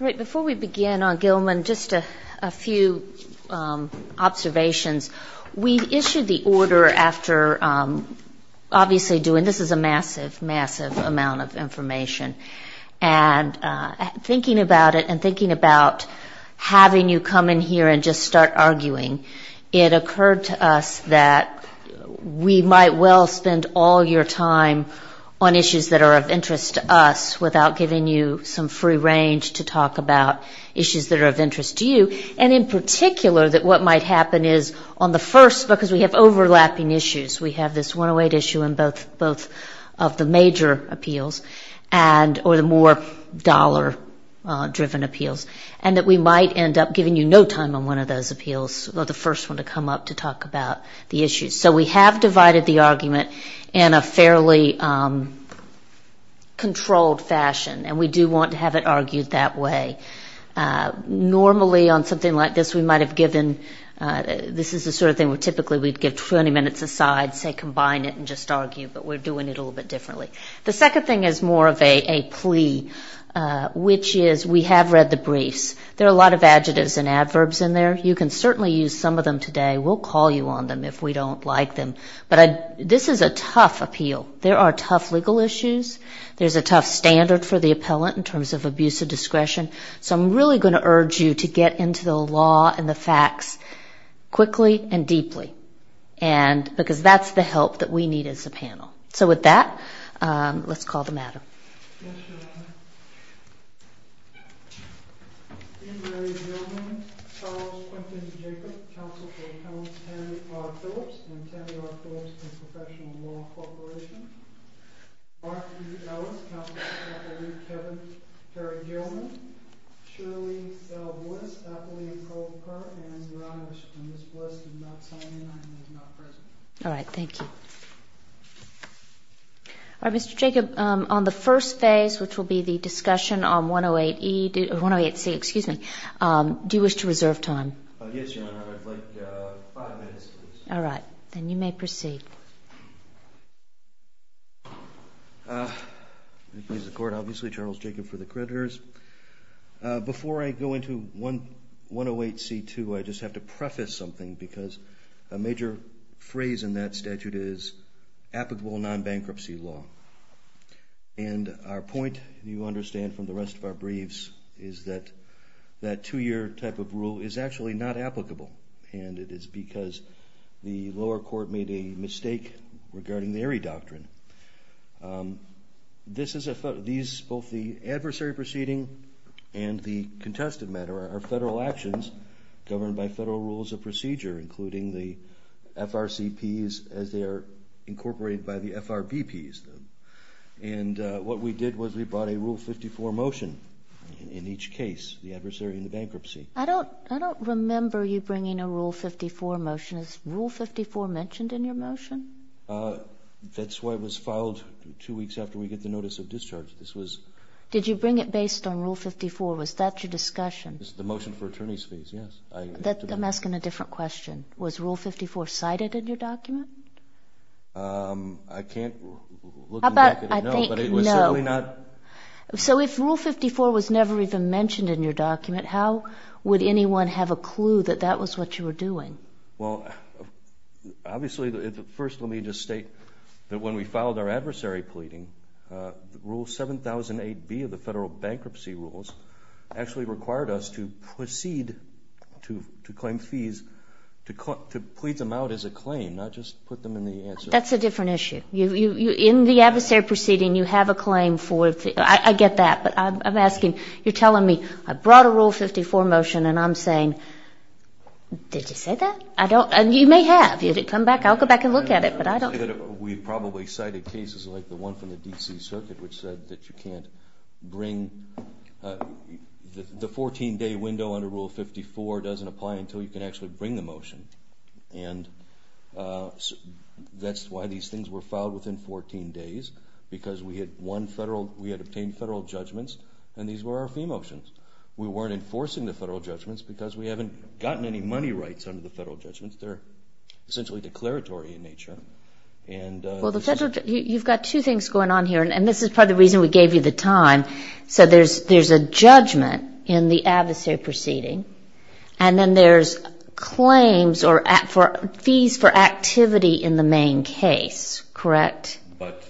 Right, before we begin on Gilman, just a few observations. We issued the order after obviously doing, this is a massive, massive amount of information, and thinking about it and thinking about having you come in here and just start arguing, it occurred to us that we might well spend all your time on issues that are of interest to us without giving you some free range to talk about issues that are of interest to you, and in particular that what might happen is on the first, because we have overlapping issues, we have this 108 issue on both of the major appeals and, or the more dollar driven appeals, and that we might end up giving you no time on one of those appeals, or the first one to come up to talk about the issues. So we have divided the argument in a fairly controlled fashion, and we do want to have it argued that way. Normally on something like this we might have given, this is the sort of thing where typically we'd give 20 minutes aside, say combine it and just argue, but we're doing it a little bit differently. The second thing is more of a plea, which is we have read the briefs. There are a lot of adjectives and adverbs in there. You can certainly use some of them today. We'll call you on them if we don't like them, but this is a tough appeal. There are tough legal issues. There's a tough standard for the appellant in terms of abuse of discretion. So I'm really going to urge you to get into the law and the facts quickly and deeply, because that's the help that we need as a panel. So with that, let's call the matter. Yes, Your Honor. Peter A. Gilman, Charles Quinton Jacobs, counsel for Counselor Ken R. Phillips. Ken R. Phillips is a professional law corporation. Mark B. Keller, counsel for Counselor Kevin Perry-Gilman. Shirley L. Woods, athlete and goal scorer. And your Honor, Ms. Woods is not calling and is not present. All right, thank you. All right, Mr. Jacobs, on the first phase, which will be the discussion on 108E, or 108C, excuse me, do you wish to reserve time? Yes, Your Honor, I would like five minutes, please. All right, and you may proceed. Thank you, Your Honor. Obviously, Charles Jacobs for the creditors. Before I go into 108C2, I just have to preface something, because a major phrase in that statute is applicable non-bankruptcy law. And our point, you understand from the rest of our briefs, is that that two-year type of rule is actually not applicable, and it is because the lower court made a mistake regarding the ERIE doctrine. Both the adversary proceeding and the contested matter are federal actions, governed by federal rules of procedure, including the FRCPs, as they are incorporated by the FRBPs. And what we did was we brought a Rule 54 motion in each case, the adversary and the bankruptcy. I don't remember you bringing a Rule 54 motion. Is Rule 54 mentioned in your motion? That's why it was filed two weeks after we got the notice of discharge. Did you bring it based on Rule 54? Was that your discussion? The motion for attorney's fees, yes. I'm asking a different question. Was Rule 54 cited in your document? I can't look back at it now, but it was certainly not. So if Rule 54 was never even mentioned in your document, how would anyone have a clue that that was what you were doing? Well, obviously, first let me just state that when we filed our adversary pleading, Rule 7008B of the federal bankruptcy rules actually required us to proceed to claim fees, to plead them out as a claim, not just put them in the answer. That's a different issue. In the adversary proceeding, you have a claim for a fee. I get that, but I'm asking, you're telling me, I brought a Rule 54 motion, and I'm saying, did you say that? You may have. I'll go back and look at it. We probably cited cases like the one from the D.C. Circuit, which said that you can't bring – the 14-day window under Rule 54 doesn't apply until you can actually bring the motion. And that's why these things were filed within 14 days, because we had obtained federal judgments, and these were our fee motions. We weren't enforcing the federal judgments because we haven't gotten any money rights under the federal judgments. They're essentially declaratory in nature. You've got two things going on here, and this is part of the reason we gave you the time. There's a judgment in the adversary proceeding, and then there's claims or fees for activity in the main case, correct? But,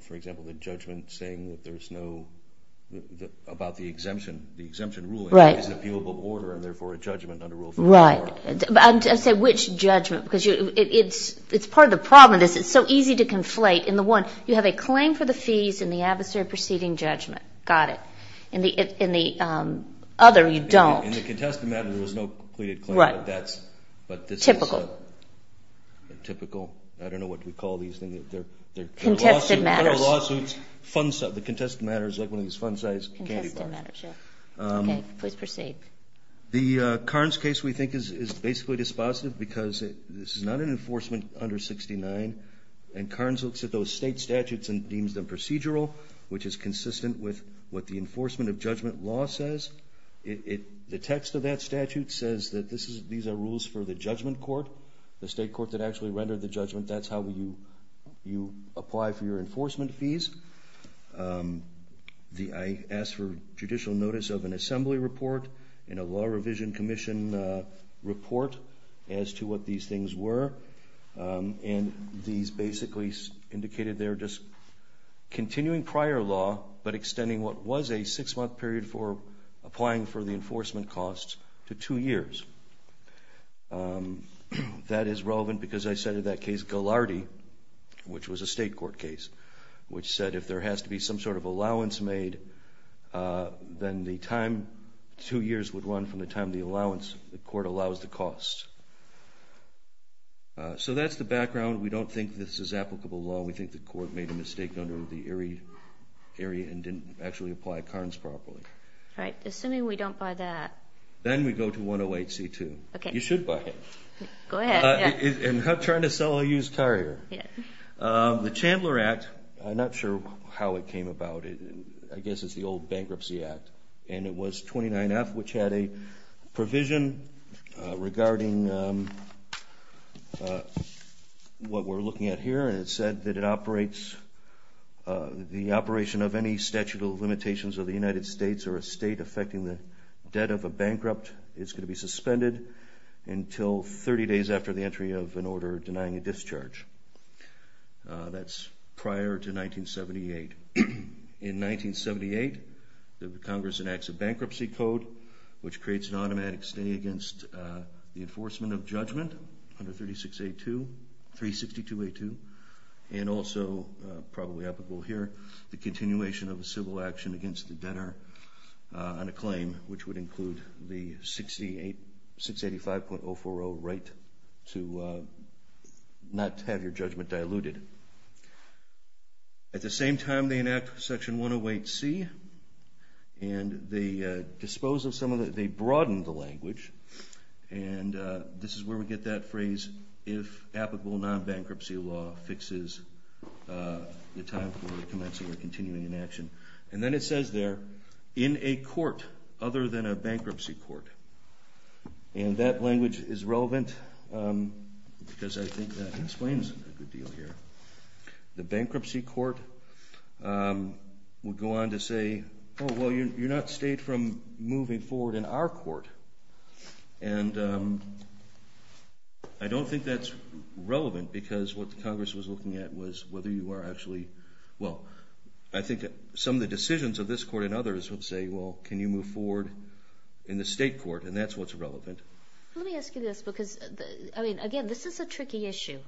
for example, the judgment saying that there's no – I'm saying which judgment, because it's part of the problem. It's so easy to conflate. In the one, you have a claim for the fees in the adversary proceeding judgment. Got it. In the other, you don't. In the contested matter, there was no clear claim for debts, but this is a – Typical. Typical. I don't know what we call these things. Contested matters. They're lawsuits. The contested matter is like one of these fun sites. Contested matters, yes. Okay, please proceed. The Carnes case we think is basically dispositive because it's not an enforcement 169, and Carnes looks at those state statutes and deems them procedural, which is consistent with what the enforcement of judgment law says. The text of that statute says that these are rules for the judgment court, the state court that actually rendered the judgment. That's how you apply for your enforcement fees. I asked for judicial notice of an assembly report and a law revision commission report as to what these things were, and these basically indicated they're just continuing prior law but extending what was a six-month period for applying for the enforcement costs to two years. That is relevant because I said in that case, which was a state court case, which said if there has to be some sort of allowance made, then the time two years would run from the time the allowance, the court allows the costs. So that's the background. We don't think this is applicable law. We think the court made a mistake under the ERIE area and didn't actually apply Carnes properly. All right, assuming we don't buy that. Then we go to 108C2. Okay. You should buy it. Go ahead. I'm trying to sell a used car here. The Chandler Act, I'm not sure how it came about. I guess it's the old Bankruptcy Act, and it was 29F, which had a provision regarding what we're looking at here, and it said that the operation of any statute of limitations of the United States or a state affecting the debt of a bankrupt is going to be suspended until 30 days after the entry of an order denying a discharge. That's prior to 1978. In 1978, the Congress enacts a bankruptcy code, which creates an automatic stay against the enforcement of judgment under 36A2, 362A2, and also probably applicable here, the continuation of the civil action against the debtor on a claim, which would include the 685.040 right to not have your judgment diluted. At the same time, they enact Section 108C, and they broaden the language, and this is where we get that phrase, if applicable non-bankruptcy law fixes the time for commencing or continuing action. And then it says there, in a court other than a bankruptcy court, and that language is relevant because I think that explains a good deal here. The bankruptcy court will go on to say, oh, well, you're not stayed from moving forward in our court, and I don't think that's relevant because what the Congress was looking at was whether you were actually, well, I think some of the decisions of this court and others would say, well, can you move forward in the state court, and that's what's relevant. Let me ask you this because, I mean, again, this is a tricky issue.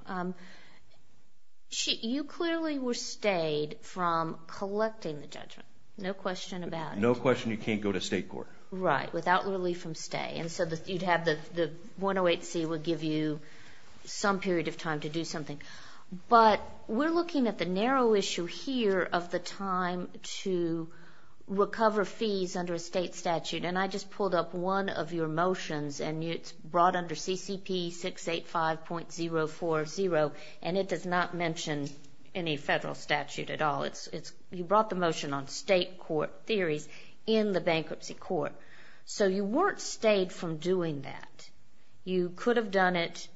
You clearly were stayed from collecting the judgment, no question about it. No question you can't go to state court. Right, without relief from stay, and so you'd have the 108C would give you some period of time to do something. But we're looking at the narrow issue here of the time to recover fees under a state statute, and I just pulled up one of your motions, and it's brought under CCP 685.040, and it does not mention any federal statute at all. You brought the motion on state court theory in the bankruptcy court. So you weren't stayed from doing that. You could have done it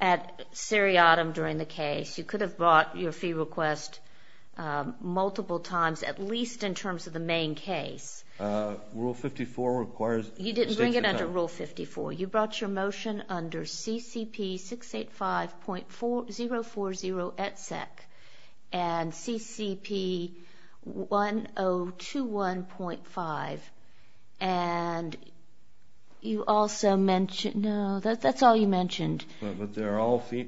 at seriatim during the case. You could have brought your fee request multiple times, at least in terms of the main case. Rule 54 requires state court time. You didn't bring it under Rule 54. You brought your motion under CCP 685.040, etc., and CCP 1021.5, and you also mentioned – no, that's all you mentioned. But they're all – this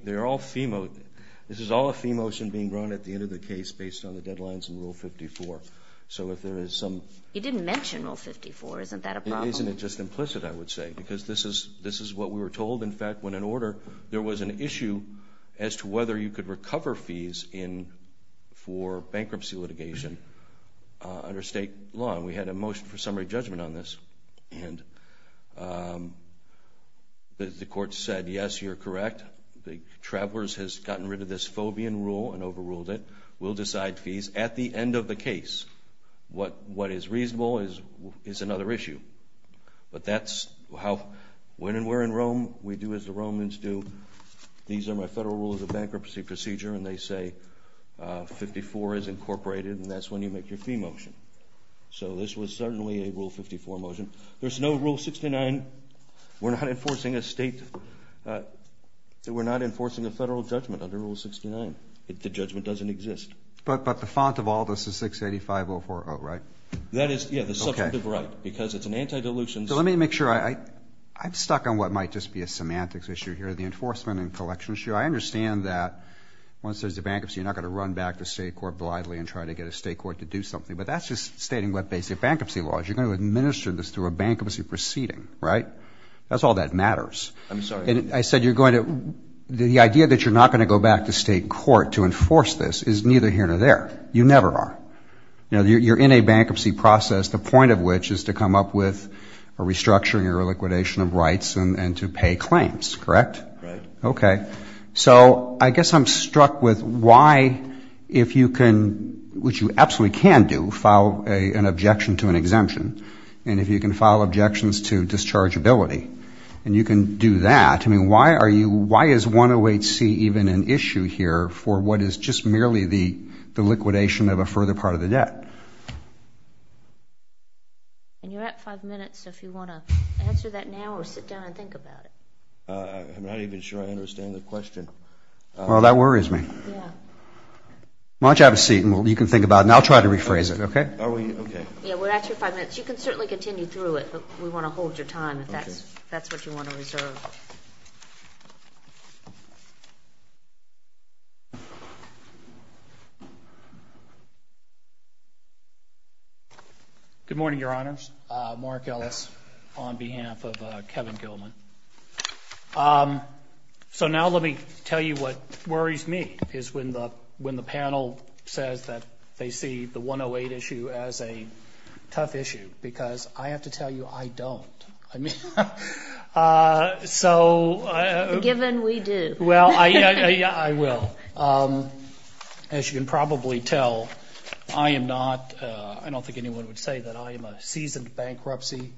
is all a fee motion being drawn at the end of the case based on the deadlines in Rule 54. So if there is some – You didn't mention Rule 54. Isn't that a problem? It isn't. It's just implicit, I would say, because this is what we were told. In fact, when in order, there was an issue as to whether you could recover fees for bankruptcy litigation under state law, and we had a motion for summary judgment on this, and the court said, yes, you're correct. The Travelers has gotten rid of this fobian rule and overruled it. We'll decide fees at the end of the case. What is reasonable is another issue. But that's how – when we're in Rome, we do as the Romans do. These are my federal rules of bankruptcy procedure, and they say 54 is incorporated, and that's when you make your fee motion. So this was certainly a Rule 54 motion. There's no Rule 69. We're not enforcing a state – we're not enforcing a federal judgment under Rule 69. The judgment doesn't exist. But the font of all this is 685040, right? That is, yeah, the second to the right because it's an anti-dilution. So let me make sure. I'm stuck on what might just be a semantics issue here, the enforcement and collection issue. I understand that once there's a bankruptcy, you're not going to run back to state court blindly and try to get a state court to do something. But that's just stating what basic bankruptcy law is. You're going to administer this through a bankruptcy proceeding, right? That's all that matters. I'm sorry. I said you're going to – the idea that you're not going to go back to state court to enforce this is neither here nor there. You never are. You're in a bankruptcy process, the point of which is to come up with a restructuring or liquidation of rights and to pay claims, correct? Right. Okay. So I guess I'm struck with why, if you can – which you absolutely can do, file an objection to an exemption, and if you can file objections to dischargeability, and you can do that. I mean, why are you – why is 108C even an issue here for what is just merely the liquidation of a further part of the debt? You're at five minutes, so if you want to answer that now or sit down and think about it. I'm not even sure I understand the question. Well, that worries me. Why don't you have a seat and you can think about it, and I'll try to rephrase it, okay? Okay. Yeah, we're at your five minutes. You can certainly continue through it, but we want to hold your time if that's what you want to reserve. Good morning, Your Honors. Mark Ellis on behalf of Kevin Gilman. So now let me tell you what worries me, is when the panel says that they see the 108 issue as a tough issue, because I have to tell you I don't. Given we do. Well, yeah, I will. As you can probably tell, I am not – I'm not a licensed bankruptcy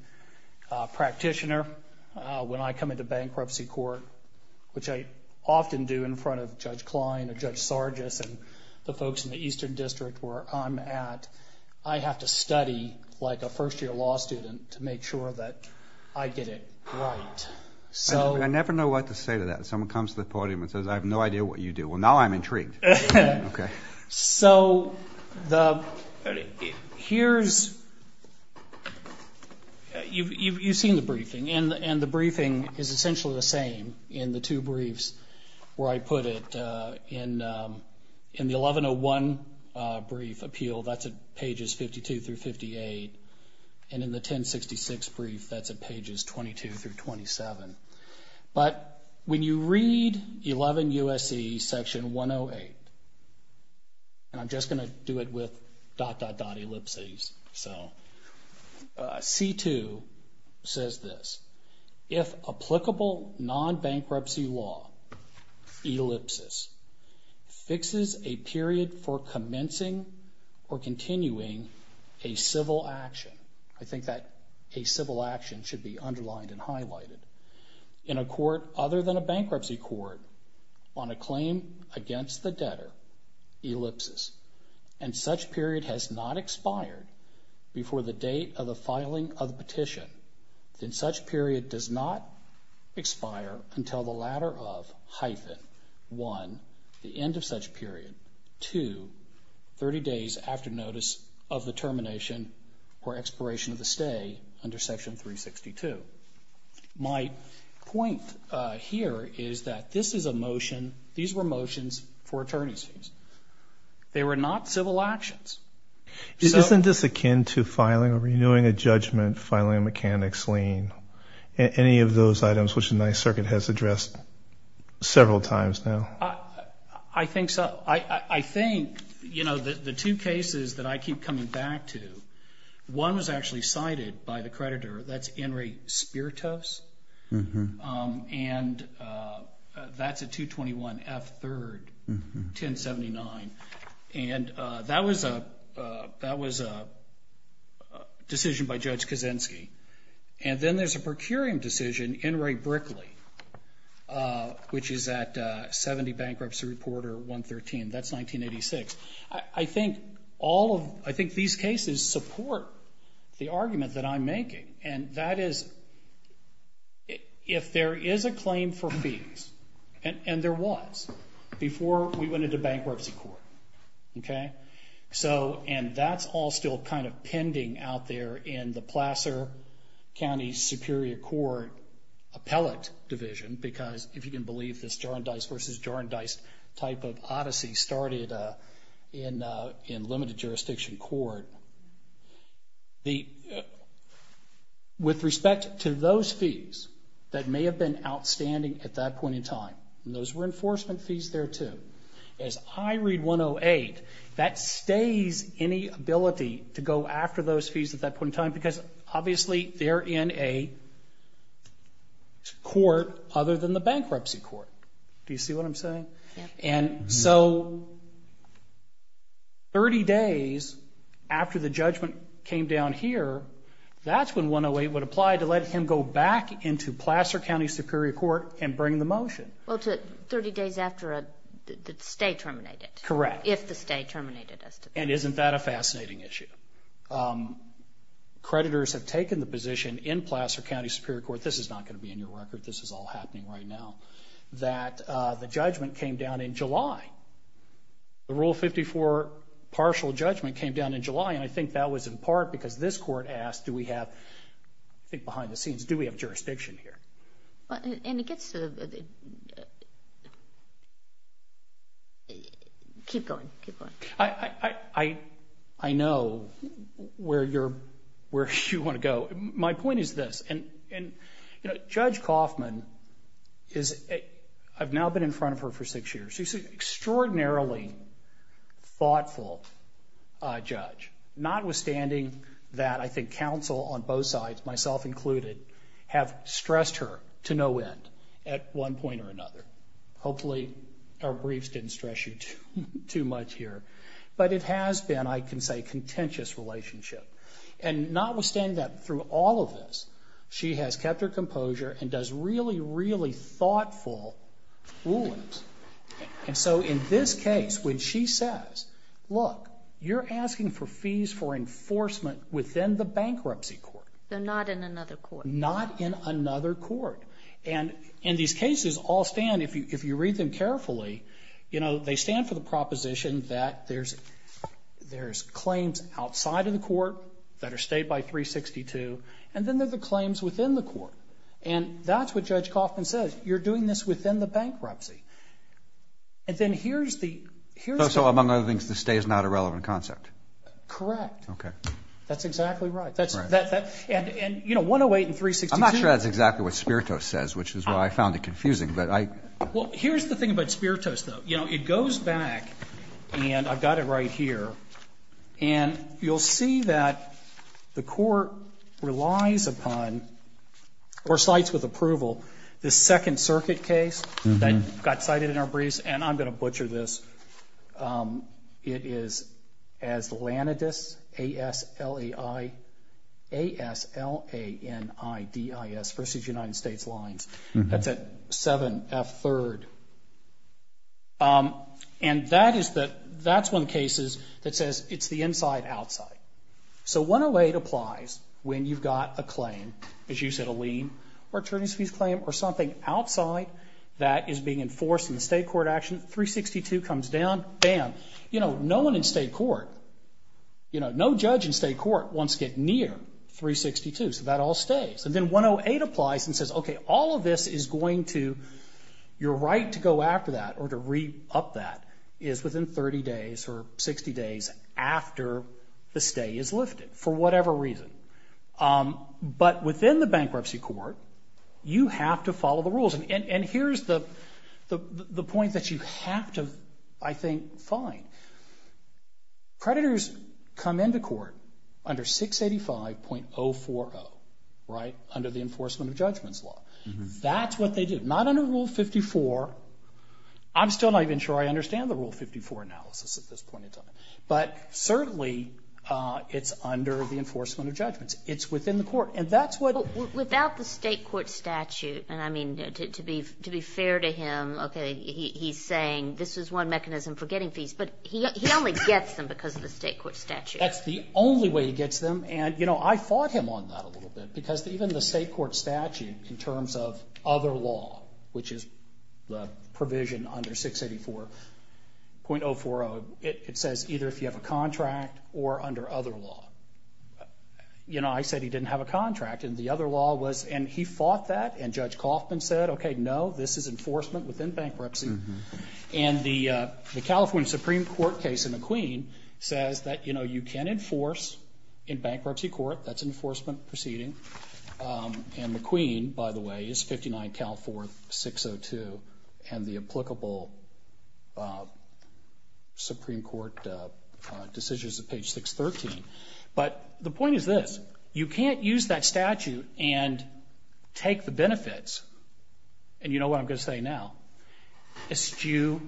practitioner. When I come into bankruptcy court, which I often do in front of Judge Klein and Judge Sargis and the folks in the Eastern District where I'm at, I have to study like a first-year law student to make sure that I get it right. I never know what to say to that. Someone comes to the podium and says, I have no idea what you do. Well, now I'm intrigued. Okay. So here's – you've seen the briefing, and the briefing is essentially the same in the two briefs where I put it. In the 1101 brief appeal, that's at pages 52 through 58, and in the 1066 brief, that's at pages 22 through 27. But when you read 11 U.S.C. section 108 – and I'm just going to do it with dot, dot, dot, ellipses. So C2 says this. If applicable non-bankruptcy law, ellipsis, fixes a period for commencing or continuing a civil action – I think that a civil action should be underlined and highlighted – in a court other than a bankruptcy court on a claim against the debtor, ellipsis, and such period has not expired before the date of a filing of petition, then such period does not expire until the latter of hyphen, one, the end of such period, two, 30 days after notice of the termination or expiration of the stay under section 362. My point here is that this is a motion – these were motions for attorneys. They were not civil actions. Isn't this akin to filing, renewing a judgment, filing a mechanics lien, any of those items which the Ninth Circuit has addressed several times now? I think so. I think, you know, the two cases that I keep coming back to, one was actually cited by the creditor. That's In re Spiritus, and that's a 221F3, 1079. And that was a decision by Judge Kaczynski. And then there's a procuring decision, Enright-Brickley, which is at 70 Bankruptcy Reporter 113. That's 1986. I think all of – I think these cases support the argument that I'm making, and that is if there is a claim for fees, and there was, before we went into bankruptcy court, okay? And that's all still kind of pending out there in the Placer County Superior Court Appellate Division because, if you can believe this, Jar and Dice versus Jar and Dice type of odyssey started in limited jurisdiction court. With respect to those fees that may have been outstanding at that point in time, and those were enforcement fees there too, as I read 108, that stays any ability to go after those fees at that point in time because, obviously, they're in a court other than the bankruptcy court. Do you see what I'm saying? Yes. And so 30 days after the judgment came down here, that's when 108 would apply to let him go back into Placer County Superior Court and bring the motion. Well, it's 30 days after the stay terminated. Correct. If the stay terminated. And isn't that a fascinating issue? Creditors have taken the position in Placer County Superior Court, this is not going to be in your record, this is all happening right now, that the judgment came down in July. The Rule 54 partial judgment came down in July, and I think that was in part because this court asked, do we have, I think behind the scenes, do we have jurisdiction here? And it gets to the, keep going, keep going. I know where you want to go. My point is this, and Judge Kaufman is, I've now been in front of her for six years, she's an extraordinarily thoughtful judge, notwithstanding that I think counsel on both sides, myself included, have stressed her to no end at one point or another. Hopefully our briefs didn't stress you too much here. But it has been, I can say, a contentious relationship. And notwithstanding that, through all of this, she has kept her composure and does really, really thoughtful rulings. And so in this case, when she says, look, you're asking for fees for enforcement within the bankruptcy court. So not in another court. Not in another court. And these cases all stand, if you read them carefully, they stand for the proposition that there's claims outside of the court that are stayed by 362, and then there's the claims within the court. And that's what Judge Kaufman says. You're doing this within the bankruptcy. And then here's the... So among other things, the stay is not a relevant concept. Correct. Okay. That's exactly right. And, you know, 108 and 362... I'm not sure that's exactly what Spiritus says, which is why I found it confusing, but I... Well, here's the thing about Spiritus, though. You know, it goes back, and I've got it right here. And you'll see that the court relies upon, or cites with approval, this Second Circuit case that got cited in our briefs, and I'm going to butcher this. It is Aslanidis, A-S-L-A-I... A-S-L-A-N-I-D-I-S, versus United States lines. That's at 7F3rd. And that is the... That's one of the cases that says it's the inside-outside. So 108 applies when you've got a claim, as you said, a lien or attorneys' fees claim, or something outside that is being enforced in the state court action. 362 comes down, bam. You know, no one in state court... You know, no judge in state court wants to get near 362, so that all stays. And then 108 applies and says, okay, all of this is going to... Your right to go after that, or to re-up that, is within 30 days or 60 days after the stay is lifted, for whatever reason. But within the bankruptcy court, you have to follow the rules. And here's the point that you have to, I think, find. Creditors come into court under 685.040, right, under the Enforcement of Judgments law. That's what they do. Not under Rule 54. I'm still not even sure I understand the Rule 54 analysis at this point. But certainly it's under the Enforcement of Judgments. It's within the court. And that's what... The state court statute, and, I mean, to be fair to him, okay, he's saying this is one mechanism for getting fees, but he only gets them because of the state court statute. That's the only way he gets them. And, you know, I fought him on that a little bit, because even the state court statute, in terms of other law, which is the provision under 684.040, it says either if you have a contract or under other law. You know, I said he didn't have a contract, and the other law was... And he fought that, and Judge Kaufman said, okay, no, this is enforcement within bankruptcy. And the California Supreme Court case in McQueen says that, you know, you can enforce in bankruptcy court. That's an enforcement proceeding. And McQueen, by the way, is 59 California 602, and the applicable Supreme Court decision is at page 613. But the point is this. You can't use that statute and take the benefits, and you know what I'm going to say now, as to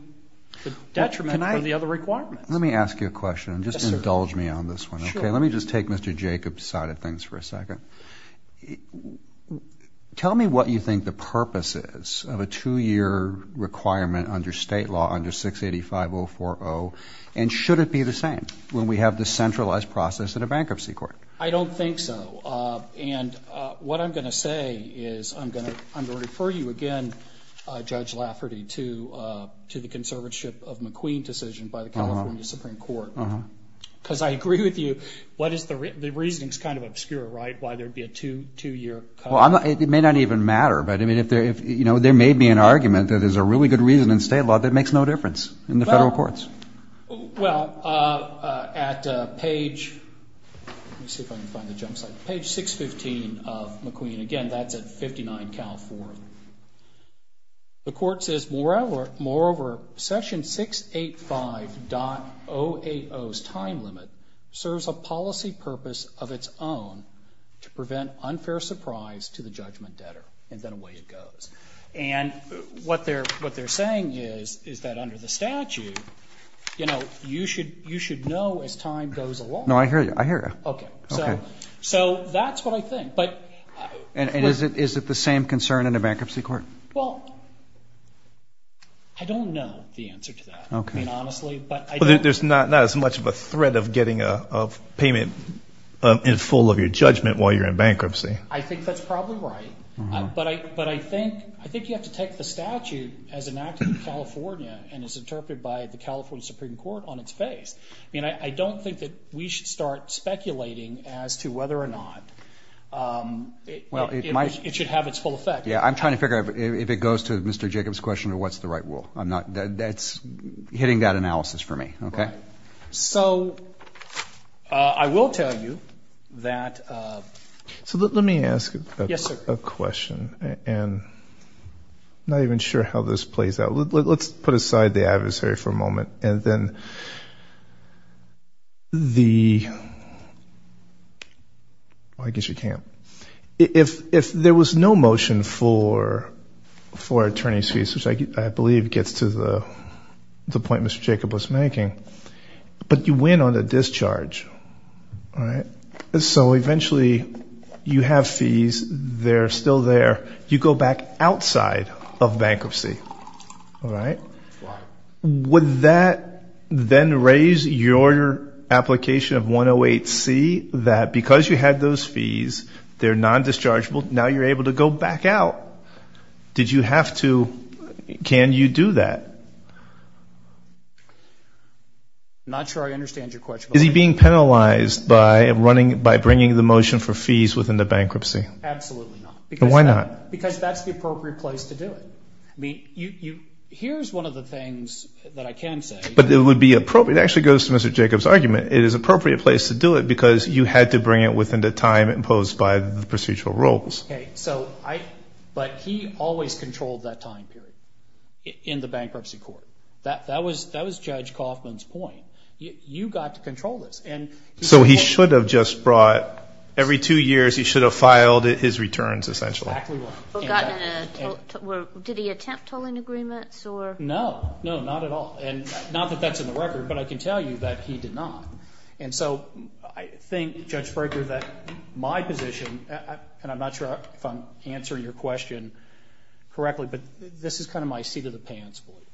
the detriment of the other requirement. Let me ask you a question. Just indulge me on this one, okay? Let me just take Mr. Jacobs' side of things for a second. Tell me what you think the purpose is of a two-year requirement under state law under 685.040, and should it be the same? When we have this centralized process in a bankruptcy court. I don't think so. And what I'm going to say is I'm going to refer you again, Judge Lafferty, to the conservatorship of McQueen decision by the California Supreme Court. Because I agree with you, the reason is kind of obscure, right, why there would be a two-year requirement. Well, it may not even matter, but, you know, they made me an argument that there's a really good reason in state law that makes no difference in the federal courts. Well, at page 615 of McQueen, again, that's at 59 California, the court says, moreover, section 685.080's time limit serves a policy purpose of its own to prevent unfair surprise to the judgment debtor. And then away it goes. And what they're saying is that under the statute, you know, you should know as time goes along. No, I hear you. Okay. So that's what I think. And is it the same concern in a bankruptcy court? Well, I don't know the answer to that, I mean, honestly. Well, there's not as much of a threat of getting a payment in full of your judgment while you're in bankruptcy. I think that's probably right. But I think you have to take the statute as enacted in California and is interpreted by the California Supreme Court on its face. I mean, I don't think that we should start speculating as to whether or not it should have its full effect. Yeah, I'm trying to figure out if it goes to Mr. Jacobs' question of what's the right rule. That's hitting that analysis for me, okay? So I will tell you that... So let me ask a question, and I'm not even sure how this plays out. Let's put aside the adversary for a moment and then the... Oh, I guess you can't. If there was no motion for attorney's fees, which I believe gets to the point Mr. Jacobs was making, but you win on the discharge, all right? So eventually you have fees. They're still there. You go back outside of bankruptcy, all right? Would that then raise your application of 108C, that because you had those fees, they're non-dischargeable, now you're able to go back out? Did you have to? Can you do that? Not sure I understand your question. Is he being penalized by bringing the motion for fees within the bankruptcy? Absolutely not. Why not? Because that's the appropriate place to do it. Here's one of the things that I can say. But it would be appropriate. It actually goes to Mr. Jacobs' argument. It is an appropriate place to do it because you had to bring it within the time imposed by the procedural rules. Okay, but he always controlled that time period in the bankruptcy court. That was Judge Kaufman's point. You got to control this. So he should have just brought, every two years he should have filed his returns, essentially. Exactly right. Did he attempt to win agreements? No, no, not at all. Not that that's in the record, but I can tell you that he did not. And so I think, Judge Berger, that my position, and I'm not sure if I'm answering your question correctly, but this is kind of my seat of the dance for you.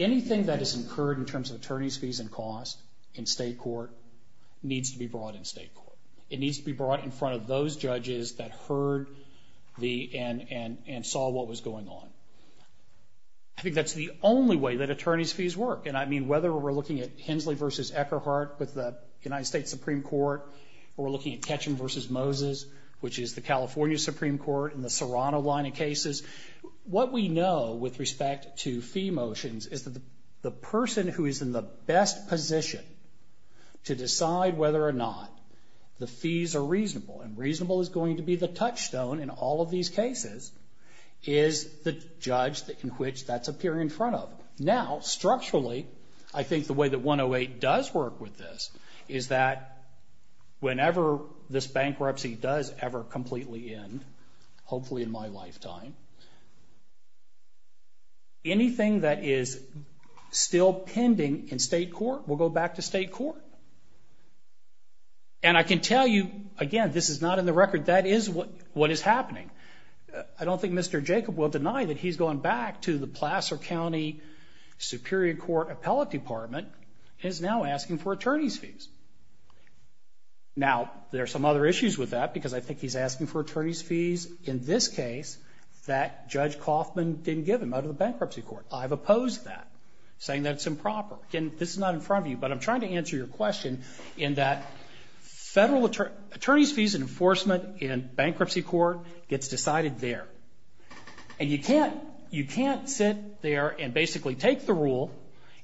Anything that is incurred in terms of attorney's fees and costs in state court needs to be brought in state court. It needs to be brought in front of those judges that heard and saw what was going on. I think that's the only way that attorney's fees work. And I mean whether we're looking at Hensley v. Eckerhart with the United States Supreme Court or we're looking at Ketchum v. Moses, which is the California Supreme Court in the Toronto line of cases, what we know with respect to fee motions is that the person who is in the best position to decide whether or not the fees are reasonable, and reasonable is going to be the touchstone in all of these cases, is the judge in which that's appearing in front of. Now, structurally, I think the way that 108 does work with this is that whenever this bankruptcy does ever completely end, hopefully in my lifetime, anything that is still pending in state court will go back to state court. And I can tell you, again, this is not in the record, that is what is happening. I don't think Mr. Jacob will deny that he's going back to the Placer County Superior Court Appellate Department and is now asking for attorney's fees. Now, there are some other issues with that because I think he's asking for attorney's fees in this case that Judge Kaufman didn't give him out of the bankruptcy court. I've opposed that, saying that's improper. This is not in front of you, but I'm trying to answer your question in that federal attorney's fees enforcement in bankruptcy court gets decided there. And you can't sit there and basically take the rule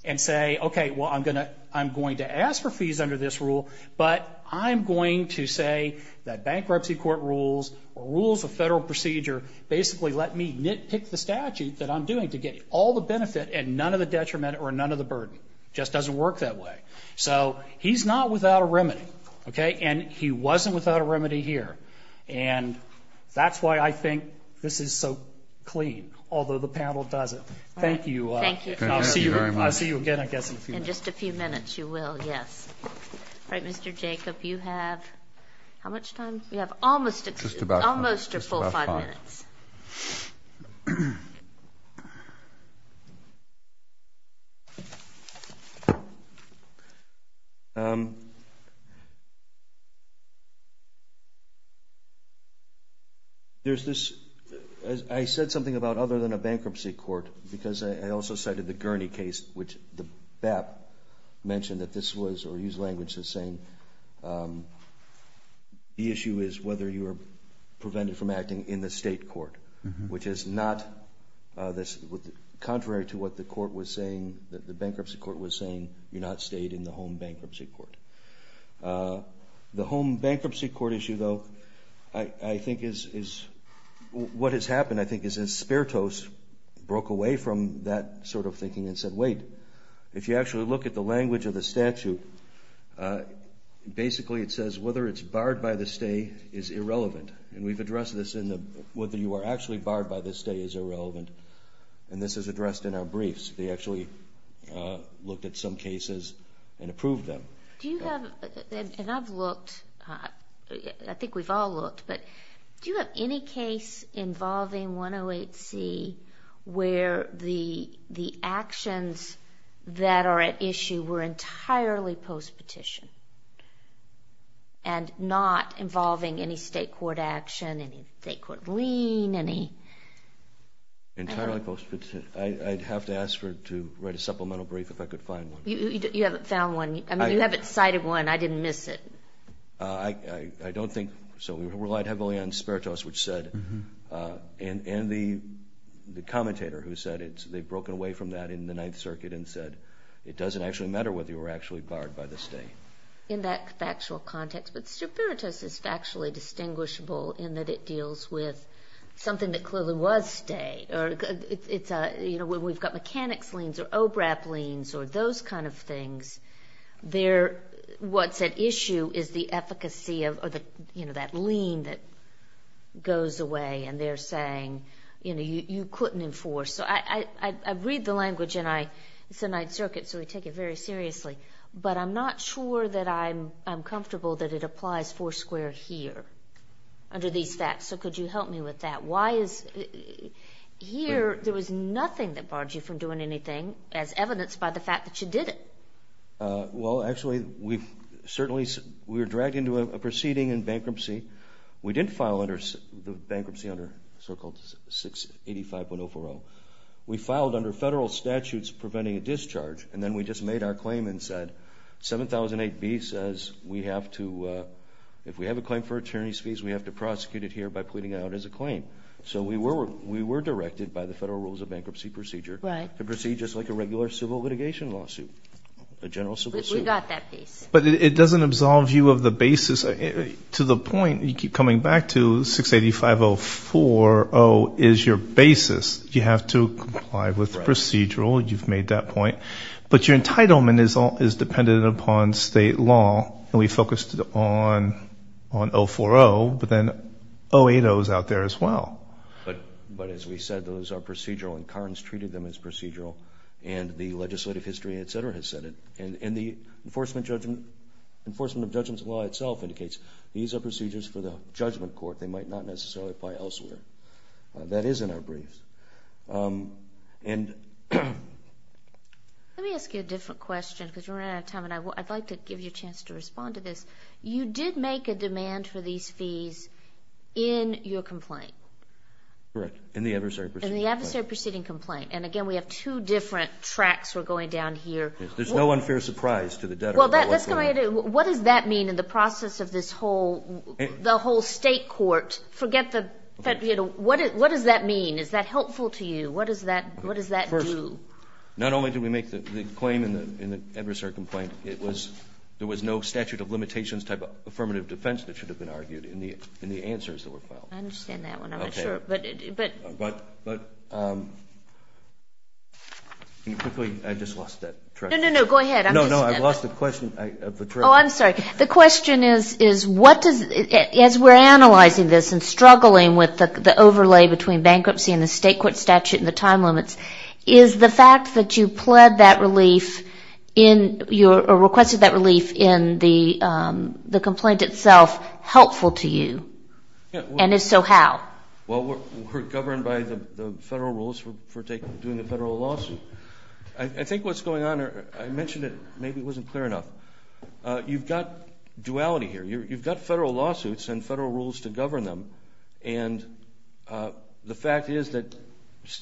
and say, okay, well, I'm going to ask for fees under this rule, but I'm going to say that bankruptcy court rules or rules of federal procedure basically let me nitpick the statute that I'm doing to get all the benefit and none of the detriment or none of the burden. It just doesn't work that way. So he's not without a remedy, okay? And he wasn't without a remedy here. And that's why I think this is so clean, although the panel doesn't. Thank you. Thank you very much. I'll see you again, I guess, in a few minutes. In just a few minutes you will, yes. All right, Mr. Jacob, you have how much time? You have almost a full five minutes. There's this – I said something about other than a bankruptcy court because I also cited the Gurney case, which the BAP mentioned that this was or used language as saying the issue is whether you are prevented from acting in the state court, which is not – contrary to what the court was saying, the bankruptcy court was saying, you're not stayed in the home bankruptcy court. The home bankruptcy court issue, though, I think is – what has happened, I think, is Espertos broke away from that sort of thinking and said, wait, if you actually look at the language of the statute, basically it says whether it's barred by the state is irrelevant. And we've addressed this in the – whether you are actually barred by the state is irrelevant. And this is addressed in our briefs. They actually looked at some cases and approved them. Do you have – and I've looked – I think we've all looked, but do you have any case involving 108C where the actions that are at issue were entirely post-petition and not involving any state court action, any state court lien, any – Entirely post-petition. I'd have to ask her to write a supplemental brief if I could find one. You haven't found one. I mean, you haven't cited one. I didn't miss it. I don't think – so we relied heavily on Espertos, which said – and the commentator who said they'd broken away from that in the Ninth Circuit and said it doesn't actually matter whether you were actually barred by the state. In that factual context, Espertos is factually distinguishable in that it deals with something that clearly was state. We've got mechanics liens or OBRAP liens or those kind of things. What's at issue is the efficacy of that lien that goes away, and they're saying you couldn't enforce. So I read the language in the Ninth Circuit, so we take it very seriously, but I'm not sure that I'm comfortable that it applies four squares here underneath that. So could you help me with that? Why is – here, there was nothing that barred you from doing anything as evidenced by the fact that you did it. Well, actually, we've certainly – we were dragged into a proceeding in bankruptcy. We didn't file the bankruptcy under Circle 685104L. We filed under federal statutes preventing a discharge, and then we just made our claim and said 7008B says we have to – if we have a claim for attorney's fees, we have to prosecute it here by putting it out as a claim. So we were directed by the Federal Rules of Bankruptcy Procedure to proceed just like a regular civil litigation lawsuit, a general civil suit. We got that piece. But it doesn't absolve you of the basis. To the point you keep coming back to, 685040 is your basis. You have to comply with the procedural. You've made that point. But your entitlement is dependent upon state law, and we focused on 040, but then 080 is out there as well. But as we said, those are procedural, and Carnes treated them as procedural, and the legislative history, et cetera, has said it. And the enforcement of judgment's law itself indicates these are procedures for the judgment court. They might not necessarily apply elsewhere. But that is in our briefs. Let me ask you a different question because we're running out of time, and I'd like to give you a chance to respond to this. You did make a demand for these fees in your complaint. Correct, in the adversary proceeding complaint. In the adversary proceeding complaint. And again, we have two different tracks we're going down here. There's no unfair surprise to the debtor. Well, let's go ahead and – what does that mean in the process of this whole – the whole state court? Forget the – what does that mean? Is that helpful to you? What does that do? Not only did we make the claim in the adversary complaint, it was – there was no statute of limitations type of affirmative defense that should have been argued in the answers that were filed. I understand that one, I'm not sure. Okay. But – Quickly, I just lost that track. No, no, no, go ahead. No, no, I lost the question of the track. Oh, I'm sorry. The question is, what does – as we're analyzing this and struggling with the overlay between bankruptcy and the state court statute and the time limits, is the fact that you pled that relief in – or requested that relief in the complaint itself helpful to you? And if so, how? Well, we're governed by the federal rules for doing the federal lawsuit. I think what's going on – I mentioned it, maybe it wasn't clear enough. You've got duality here. You've got federal lawsuits and federal rules to govern them, and the fact is that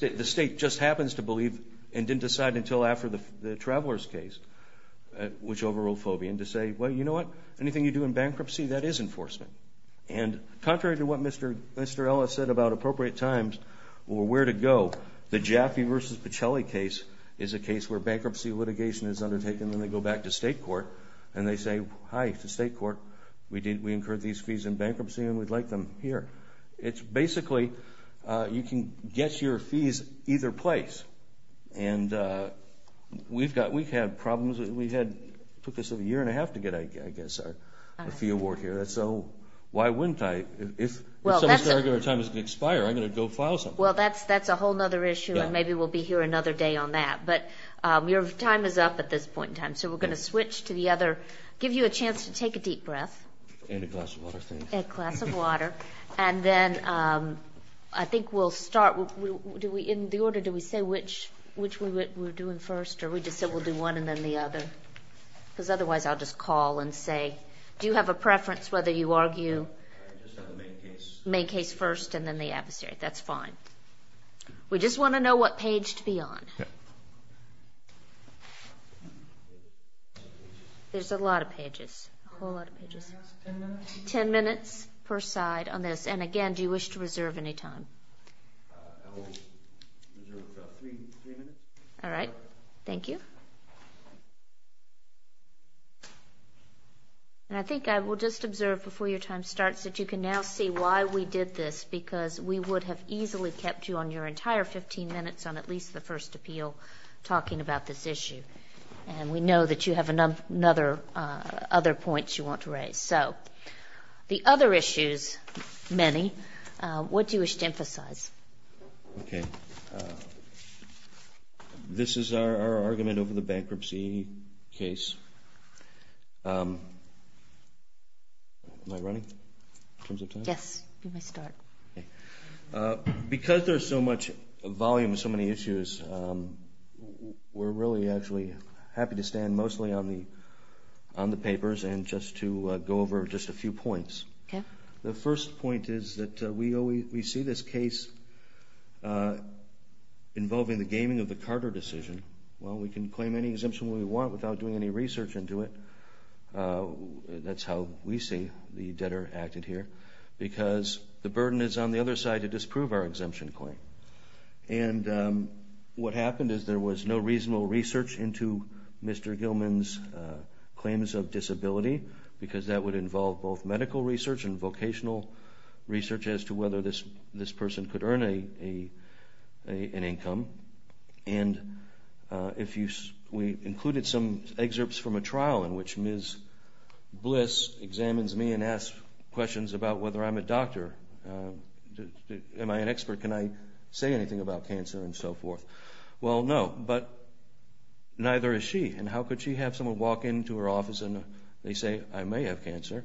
the state just happens to believe and didn't decide until after the Travelers case, which overruled FOBIA, and to say, well, you know what? Anything you do in bankruptcy, that is enforcement. And contrary to what Mr. Ellis said about appropriate times or where to go, the Jackie versus Pichelli case is a case where bankruptcy litigation is undertaken. And then they go back to state court, and they say, hi, to state court, we incurred these fees in bankruptcy, and we'd like them here. It's basically you can guess your fees either place. And we've got – we've had problems. We had – took us a year and a half to get, I guess, a fee award here. So why wouldn't I? If some of our time is going to expire, I'm going to go file something. Well, that's a whole other issue, and maybe we'll be here another day on that. But your time is up at this point in time, so we're going to switch to the other – give you a chance to take a deep breath. And a glass of water, thank you. And a glass of water. And then I think we'll start – in the order, do we say which we're doing first, or we just say we'll do one and then the other? Because otherwise I'll just call and say, do you have a preference whether you argue? Just on the main case. Main case first, and then the adversary. That's fine. We just want to know what page to be on. There's a lot of pages. A whole lot of pages. Ten minutes. Ten minutes per side on this. And, again, do you wish to reserve any time? All right. Thank you. And I think I will just observe before your time starts that you can now see why we did this, because we would have easily kept you on your entire 15 minutes on at least the first appeal talking about this issue. And we know that you have another – other points you want to raise. So the other issues, many, what do you wish to emphasize? Okay. This is our argument over the bankruptcy case. Am I running? In terms of time? Yes, you may start. Because there's so much volume, so many issues, we're really actually happy to stand mostly on the papers and just to go over just a few points. The first point is that we see this case involving the gaming of the Carter decision. While we can claim any exemption we want without doing any research into it, that's how we see the debtor acted here. Because the burden is on the other side to disprove our exemption claim. And what happened is there was no reasonable research into Mr. Gilman's claims of disability, because that would involve both medical research and vocational research as to whether this person could earn an income. And if you – we included some excerpts from a trial in which Ms. Bliss examines me and asks questions about whether I'm a doctor. Am I an expert? Can I say anything about cancer and so forth? Well, no, but neither is she. And how could she have someone walk into her office and they say, I may have cancer,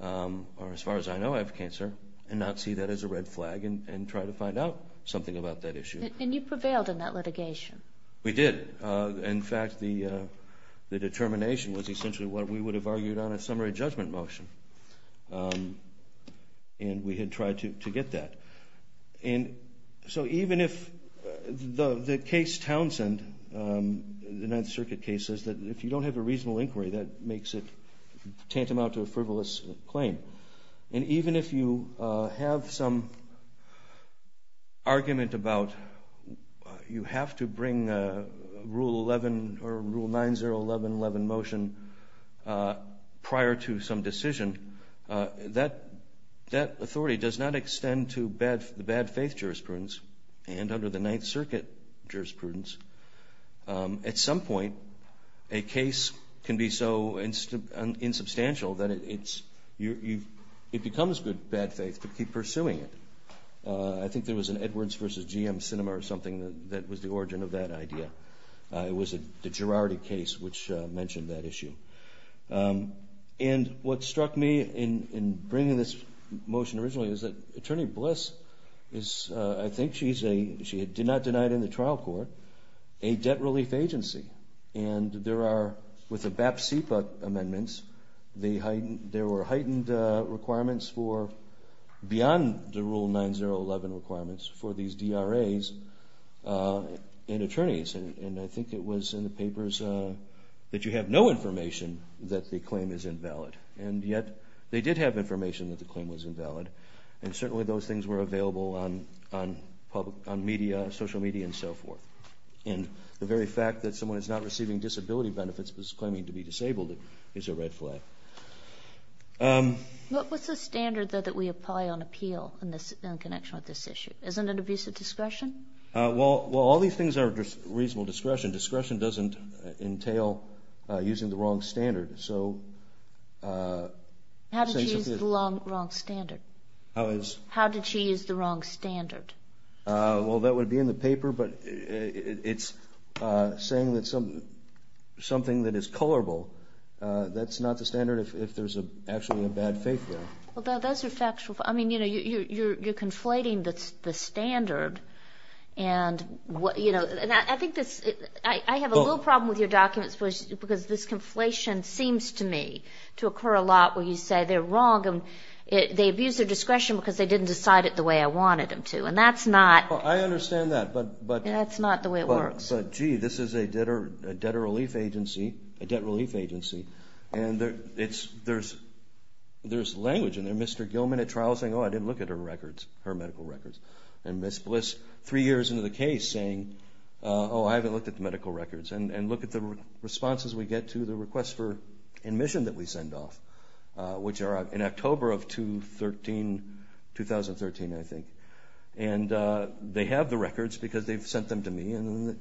or as far as I know I have cancer, and not see that as a red flag and try to find out something about that issue? You failed in that litigation. We did. In fact, the determination was essentially what we would have argued on a summary judgment motion. And we had tried to get that. And so even if – the case Townsend, the 9th Circuit case, says that if you don't have a reasonable inquiry, that makes it tantamount to a frivolous claim. And even if you have some argument about you have to bring a Rule 11 or Rule 9-0-11-11 motion prior to some decision, that authority does not extend to bad faith jurisprudence and under the 9th Circuit jurisprudence. At some point, a case can be so insubstantial that it becomes bad faith to keep pursuing it. I think there was an Edwards v. GM cinema or something that was the origin of that idea. It was a Girardi case which mentioned that issue. And what struck me in bringing this motion originally is that Attorney Bliss is – is a debt relief agency. And there are – with the BAPC amendments, there were heightened requirements for – beyond the Rule 9-0-11 requirements for these DRAs and attorneys. And I think it was in the papers that you have no information that the claim is invalid. And yet they did have information that the claim was invalid. And certainly those things were available on media, social media and so forth. And the very fact that someone is not receiving disability benefits but is claiming to be disabled is a red flag. What's the standard that we apply on appeal in connection with this issue? Isn't it abuse of discretion? Well, all these things are reasonable discretion. Discretion doesn't entail using the wrong standard. How did she use the wrong standard? How did she use the wrong standard? Well, that would be in the paper. But it's saying that something that is colorable, that's not the standard if there's actually a bad faith there. Well, those are factual – I mean, you know, you're conflating the standard. I have a little problem with your documents because this conflation seems to me to occur a lot where you say they're wrong. They abuse their discretion because they didn't decide it the way I wanted them to. And that's not – Well, I understand that. That's not the way it works. But, gee, this is a debt relief agency. And there's language. And Mr. Gilman at trial is saying, oh, I didn't look at her records, her medical records. And Ms. Bliss, three years into the case, saying, oh, I haven't looked at the medical records. And look at the responses we get to the request for admission that we send off, which are in October of 2013, I think. And they have the records because they've sent them to me.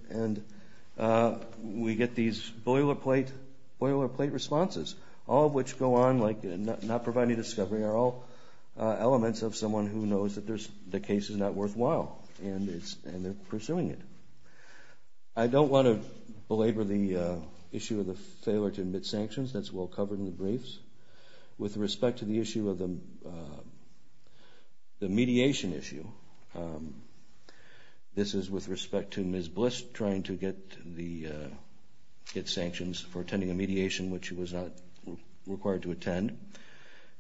And we get these boilerplate responses, all of which go on like not providing a discovery. They're all elements of someone who knows that the case is not worthwhile. And they're pursuing it. I don't want to belabor the issue of the failure to admit sanctions. That's well covered in the briefs. With respect to the issue of the mediation issue, this is with respect to Ms. Bliss trying to get sanctions for attending a mediation which she was not required to attend.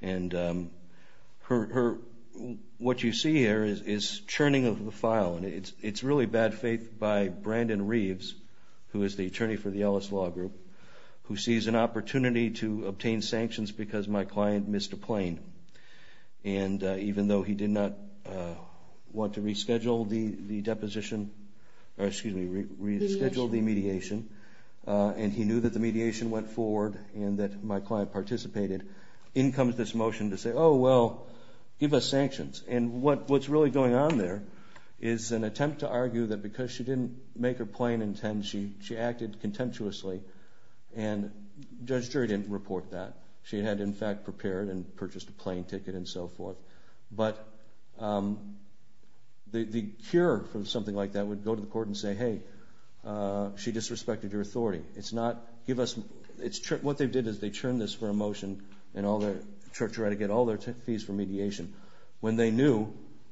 And what you see here is churning of the file. It's really bad faith by Brandon Reeves, who is the attorney for the Ellis Law Group, who sees an opportunity to obtain sanctions because my client missed a plane. And even though he did not want to reschedule the deposition, or excuse me, reschedule the mediation, and he knew that the mediation went forward and that my client participated, in comes this motion to say, oh, well, give us sanctions. And what's really going on there is an attempt to argue that because she didn't make her plane in 10, she acted contemptuously. And Judge Gerry didn't report that. She had, in fact, prepared and purchased a plane ticket and so forth. But the cure for something like that would go to the court and say, hey, she disrespected your authority. It's not, give us, what they did is they churned this for a motion and all their, all their fees for mediation. When they knew,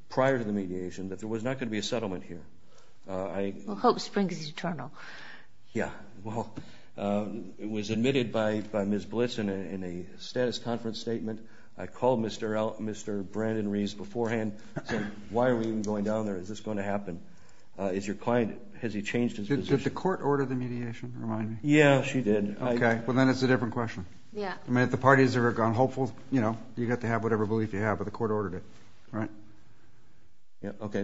prior to the mediation, that there was not going to be a settlement here. Well, hope's been eternal. Yeah, well, it was admitted by Ms. Bliss in a status conference statement. I called Mr. Brandon Reeves beforehand and said, why are we even going down there? Is this going to happen? Has your client, has he changed his position? Did the court order the mediation, remind me? Yeah, she did. Okay, well, then it's a different question. Yeah. I mean, the parties are hopeful, you know, you'd have to have whatever belief you have, but the court ordered it, right? Yeah, okay.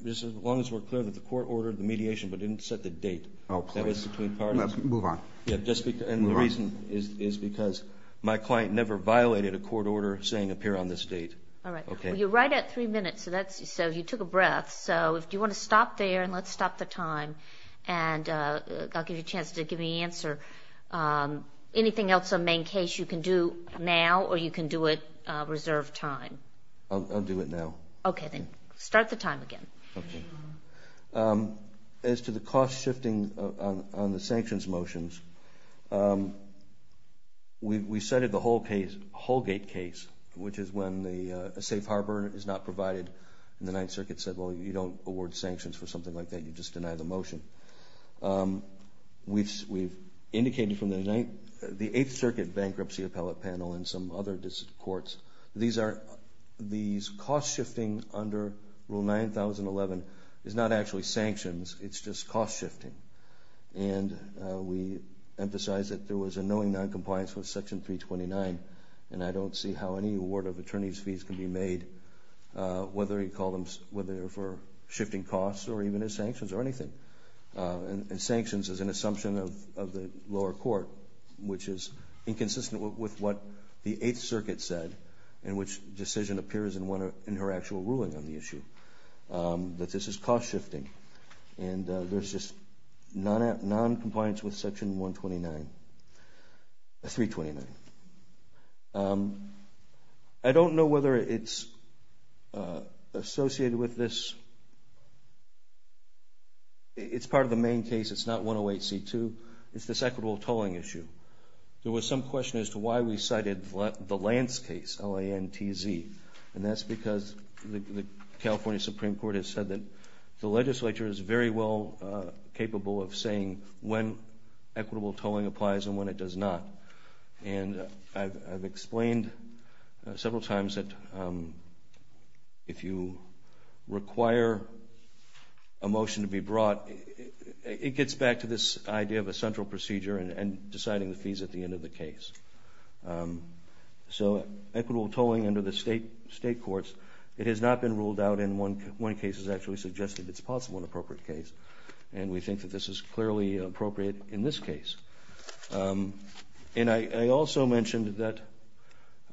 As long as we're clear that the court ordered the mediation but didn't set the date. Oh, okay. Let's move on. And the reason is because my client never violated a court order saying appear on this date. Well, you're right at three minutes, so that's, so you took a breath. So, do you want to stop there and let's stop the time and I'll give you a chance to give me an answer. Anything else on the main case you can do now or you can do it reserved time? I'll do it now. Okay, then start the time again. Okay. As to the cost shifting on the sanctions motions, we've cited the Holgate case, which is when the safe harbor is not provided and the Ninth Circuit said, well, you don't award sanctions for something like that, you just deny the motion. We've indicated from the Ninth, the Eighth Circuit Bankruptcy Appellate Panel and some other courts, these are, these cost shifting under Rule 9011 is not actually sanctions, it's just cost shifting. And we emphasize that there was a knowing noncompliance with Section 329 and I don't see how any award of attorney's fees can be made, whether you call them, whether they're for shifting costs or even as sanctions or anything. And sanctions is an assumption of the lower court, which is inconsistent with what the Eighth Circuit said, in which decision appears in her actual ruling on the issue, that this is cost shifting. And there's just noncompliance with Section 129, 329. I don't know whether it's associated with this, it's part of the main case, it's not 108C2, it's this equitable tolling issue. There was some question as to why we cited the Lance case, L-A-N-T-Z, and that's because the California Supreme Court has said that the legislature is very well capable of saying when equitable tolling applies and when it does not. And I've explained several times that if you require a motion to be brought, it gets back to this idea of a central procedure and deciding the fees at the end of the case. So equitable tolling under the state courts, it has not been ruled out in one case. It's actually suggested it's possible in an appropriate case, and we think that this is clearly appropriate in this case. And I also mentioned that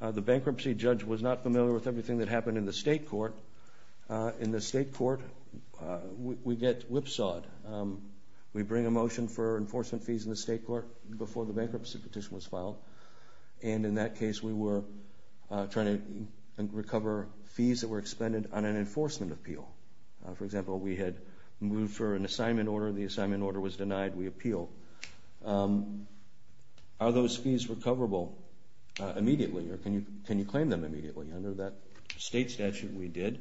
the bankruptcy judge was not familiar with everything that happened in the state court. In the state court, we get whipsawed. We bring a motion for enforcement fees in the state court before the bankruptcy petition was filed, and in that case we were trying to recover fees that were expended on an enforcement appeal. For example, we had moved for an assignment order, the assignment order was denied, we appealed. Are those fees recoverable immediately, or can you claim them immediately? I know that state statute we did,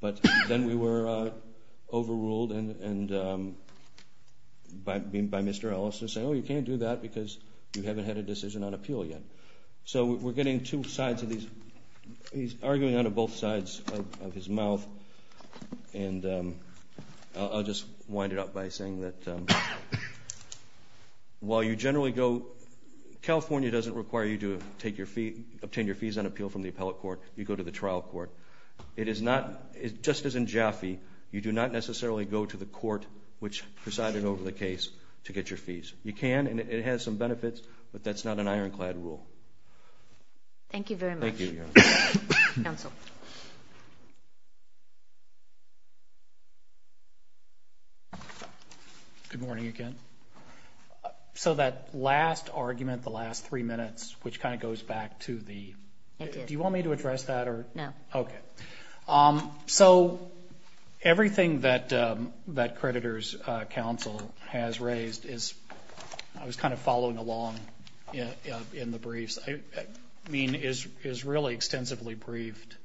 but then we were overruled by Mr. Ellis and said, oh, you can't do that because you haven't had a decision on appeal yet. So we're getting two sides of these, he's arguing on both sides of his mouth, and I'll just wind it up by saying that while you generally go, California doesn't require you to obtain your fees on appeal from the appellate court, you go to the trial court. It is not, just as in Jaffe, you do not necessarily go to the court which presided over the case to get your fees. You can, and it has some benefits, but that's not an ironclad rule. Thank you very much. Good morning again. So that last argument, the last three minutes, which kind of goes back to the, do you want me to address that? No. Okay. So everything that creditor's counsel has raised is, I was kind of following along in the briefs, I mean, is really extensively briefed.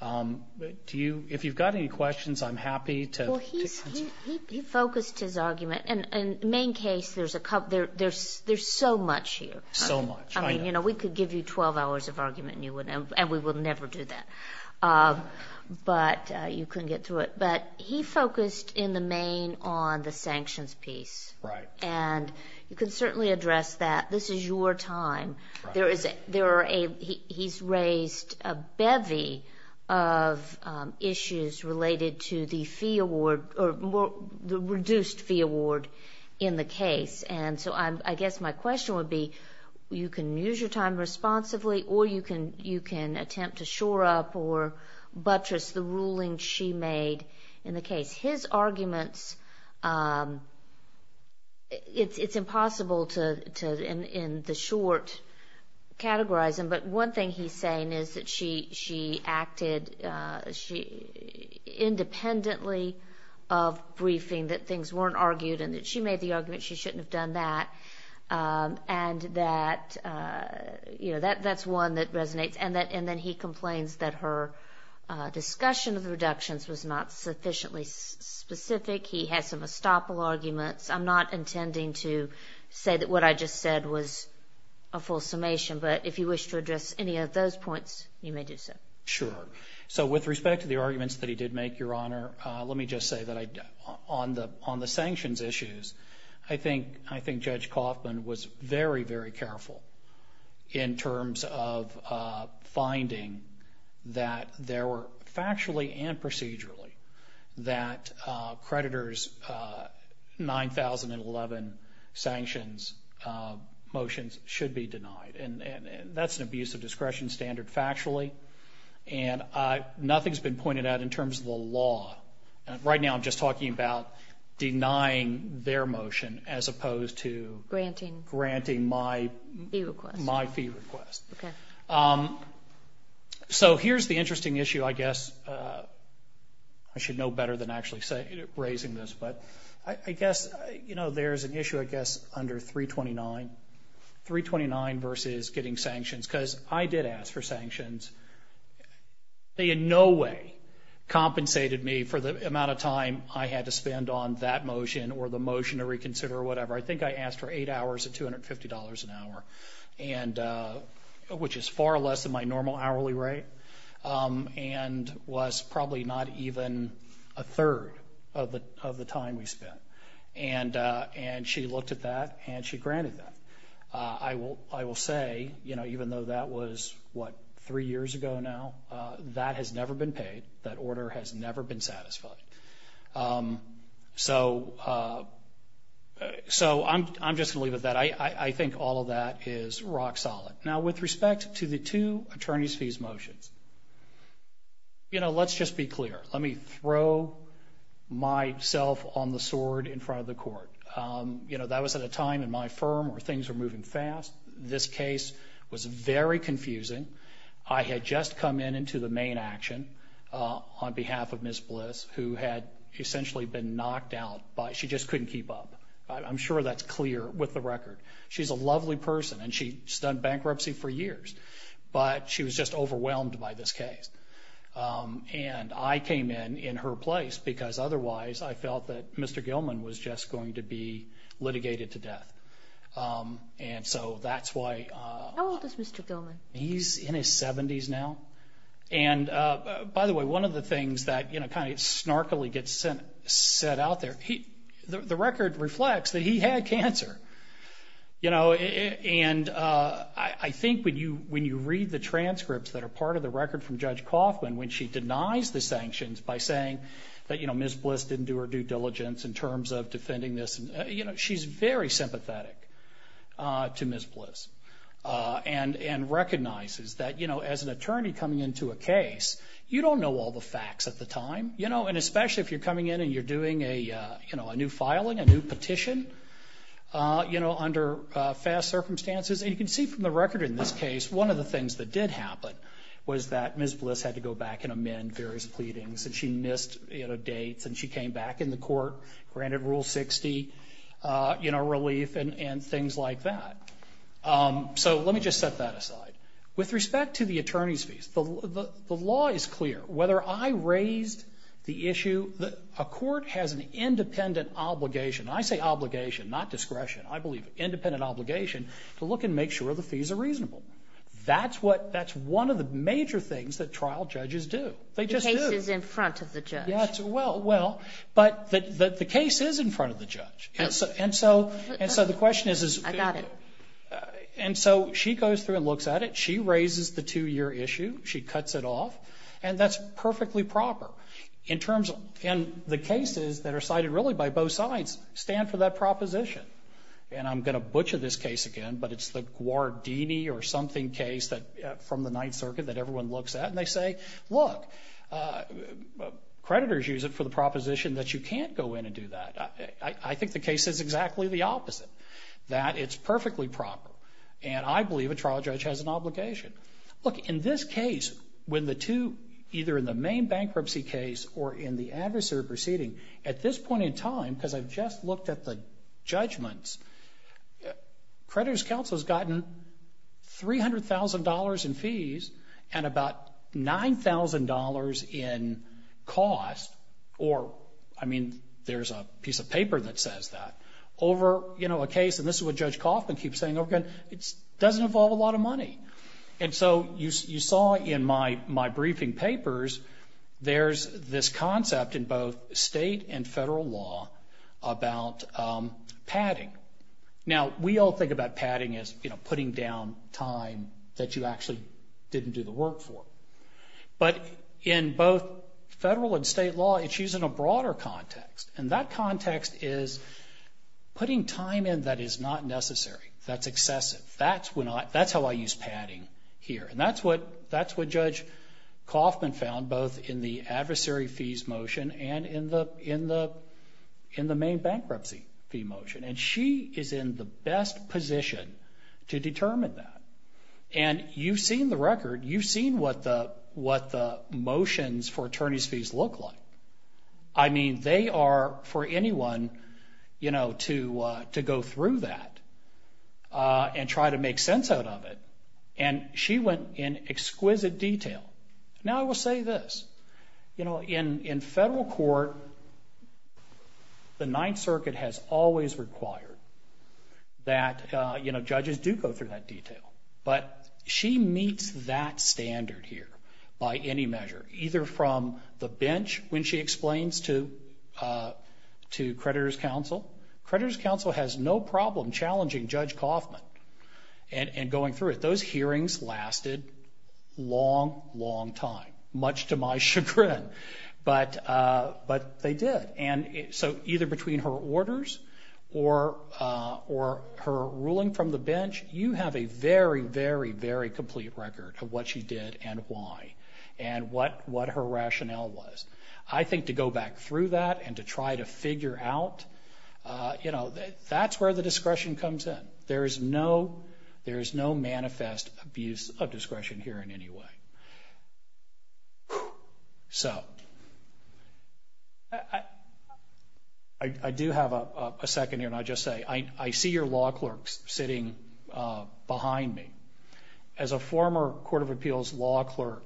Do you, if you've got any questions, I'm happy to. Well, he focused his argument, and main case, there's so much here. So much. I mean, you know, we could give you 12 hours of argument, and we would never do that, but you couldn't get through it. But he focused in the main on the sanctions piece. Right. And you can certainly address that. This is your time. He's raised a bevy of issues related to the fee award, or the reduced fee award in the case. And so I guess my question would be, you can use your time responsibly, or you can attempt to shore up or buttress the ruling she made in the case. His arguments, it's impossible to, in the short, categorize them, but one thing he's saying is that she acted independently of briefing, that things weren't argued and that she made the argument she shouldn't have done that, and that, you know, that's one that resonates. And then he complains that her discussion of reductions was not sufficiently specific. He had some estoppel arguments. I'm not intending to say that what I just said was a full summation, but if you wish to address any of those points, you may do so. Sure. So with respect to the arguments that he did make, Your Honor, let me just say that on the sanctions issues, I think Judge Kaufman was very, very careful in terms of finding that there were, factually and procedurally, that creditors' 9,011 sanctions motions should be denied. And that's an abuse of discretion standard factually, and nothing's been pointed out in terms of the law. Right now, I'm just talking about denying their motion as opposed to granting my fee request. Okay. So here's the interesting issue, I guess. I should know better than actually raising this, but I guess, you know, there's an issue, I guess, under 329. 329 versus getting sanctions, because I did ask for sanctions. They in no way compensated me for the amount of time I had to spend on that motion or the motion to reconsider or whatever. I think I asked for eight hours at $250 an hour, which is far less than my normal hourly rate, and was probably not even a third of the time we spent. And she looked at that, and she granted that. I will say, you know, even though that was, what, three years ago now, that has never been paid. That order has never been satisfied. So I'm just going to leave it at that. I think all of that is rock solid. Now, with respect to the two attorney's fees motions, you know, let's just be clear. Let me throw myself on the sword in front of the court. You know, that was at a time in my firm where things were moving fast. This case was very confusing. I had just come in into the main action on behalf of Ms. Bliss, who had essentially been knocked out. She just couldn't keep up. I'm sure that's clear with the record. She's a lovely person, and she's done bankruptcy for years, but she was just overwhelmed by this case. And I came in in her place because otherwise I felt that Mr. Gilman was just going to be litigated to death. And so that's why. How old is Mr. Gilman? He's in his 70s now. And, by the way, one of the things that, you know, kind of snarkily gets said out there, the record reflects that he had cancer. You know, and I think when you read the transcripts that are part of the record from Judge Coughlin, when she denies the sanctions by saying that, you know, Ms. Bliss didn't do her due diligence in terms of defending this, you know, she's very sympathetic to Ms. Bliss and recognizes that, you know, as an attorney coming into a case, you don't know all the facts at the time. You know, and especially if you're coming in and you're doing a, you know, a new filing, a new petition, you know, under fast circumstances. And you can see from the record in this case, one of the things that did happen was that Ms. Bliss had to go back and amend various pleadings, and she missed, you know, dates, and she came back in the court, granted Rule 60, you know, relief and things like that. So let me just set that aside. With respect to the attorney's fees, the law is clear. Whether I raise the issue, a court has an independent obligation, and I say obligation, not discretion, I believe, independent obligation to look and make sure the fees are reasonable. That's what, that's one of the major things that trial judges do. They just do. It's in front of the judge. Yes, well, but the case is in front of the judge. And so the question is. I got it. And so she goes through and looks at it. She raises the two-year issue. She cuts it off. And that's perfectly proper in terms of, and the cases that are cited really by both sides stand for that proposition. And I'm going to butcher this case again, but it's the Guardini or something case from the Ninth Circuit that everyone looks at, and they say, look, creditors use it for the proposition that you can't go in and do that. I think the case is exactly the opposite, that it's perfectly proper. And I believe a trial judge has an obligation. Look, in this case, when the two, either in the main bankruptcy case or in the adversary proceeding, at this point in time, because I've just looked at the judgments, creditors counsel has gotten $300,000 in fees and about $9,000 in costs, or, I mean, there's a piece of paper that says that, over a case, and this is what Judge Kaufman keeps saying over again, it doesn't involve a lot of money. And so you saw in my briefing papers, there's this concept in both state and federal law about padding. Now, we all think about padding as putting down time that you actually didn't do the work for. But in both federal and state law, it's used in a broader context. And that context is putting time in that is not necessary, that's excessive. That's how I use padding here. And that's what Judge Kaufman found both in the adversary fees motion and in the main bankruptcy fee motion. And she is in the best position to determine that. And you've seen the record, you've seen what the motions for attorney's fees look like. I mean, they are for anyone, you know, to go through that and try to make sense out of it. And she went in exquisite detail. Now, I will say this, you know, in federal court, the Ninth Circuit has always required that, you know, judges do go through that detail. But she meets that standard here by any measure, either from the bench when she explains to creditors' counsel. Creditors' counsel has no problem challenging Judge Kaufman and going through it. Those hearings lasted a long, long time, much to my chagrin. But they did. And so either between her orders or her ruling from the bench, you have a very, very, very complete record of what she did and why and what her rationale was. I think to go back through that and to try to figure out, you know, that's where the discretion comes in. There is no manifest abuse of discretion here in any way. So I do have a second here, and I just say I see your law clerks sitting behind me. As a former Court of Appeals law clerk,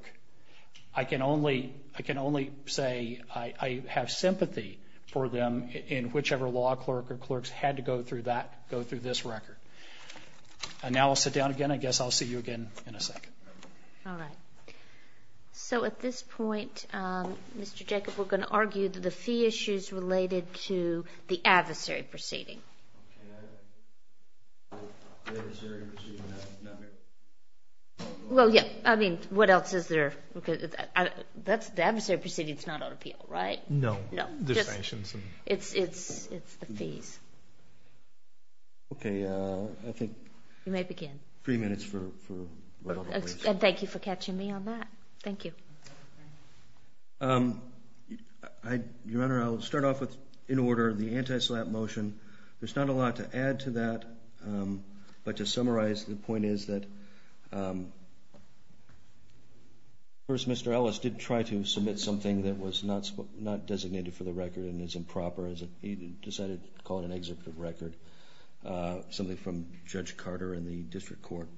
I can only say I have sympathy for them in whichever law clerk or clerks had to go through that, go through this record. And now I'll sit down again. I guess I'll see you again in a second. All right. So at this point, Mr. Jacobs, we're going to argue that the fee issue is related to the adversary proceeding. The adversary proceeding is not an appeal? Well, yes. I mean, what else is there? The adversary proceeding is not an appeal, right? No. No. It's a fee. Okay. I think... You may begin. Three minutes for whatever reason. Thank you for catching me on that. Thank you. Your Honor, I'll start off with, in order, the anti-SLAPP motion. There's not a lot to add to that, but to summarize, the point is that, first, Mr. Ellis did try to submit something that was not designated for the record and is improper. He decided to call it an executive record, something from Judge Carter in the district court.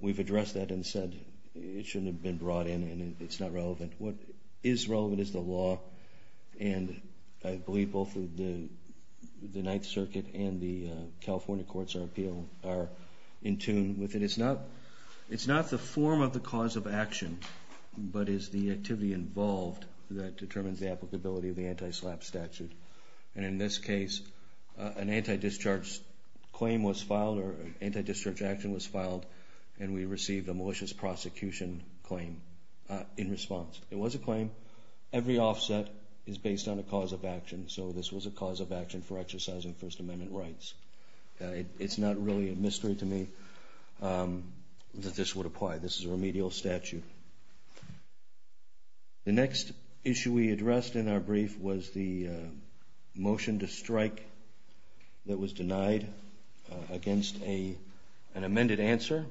We've addressed that and said it shouldn't have been brought in and it's not relevant. What is relevant is the law, and I believe both the Ninth Circuit and the California Courts of Appeal are in tune with it. It's not the form of the cause of action, but it's the activity involved that determines the applicability of the anti-SLAPP statute. And in this case, an anti-discharge claim was filed, or an anti-discharge action was filed, and we received a malicious prosecution claim in response. It was a claim. Every offset is based on a cause of action, so this was a cause of action for exercising First Amendment rights. It's not really a mystery to me that this would apply. This is a remedial statute. The next issue we addressed in our brief was the motion to strike that was denied against an amended answer.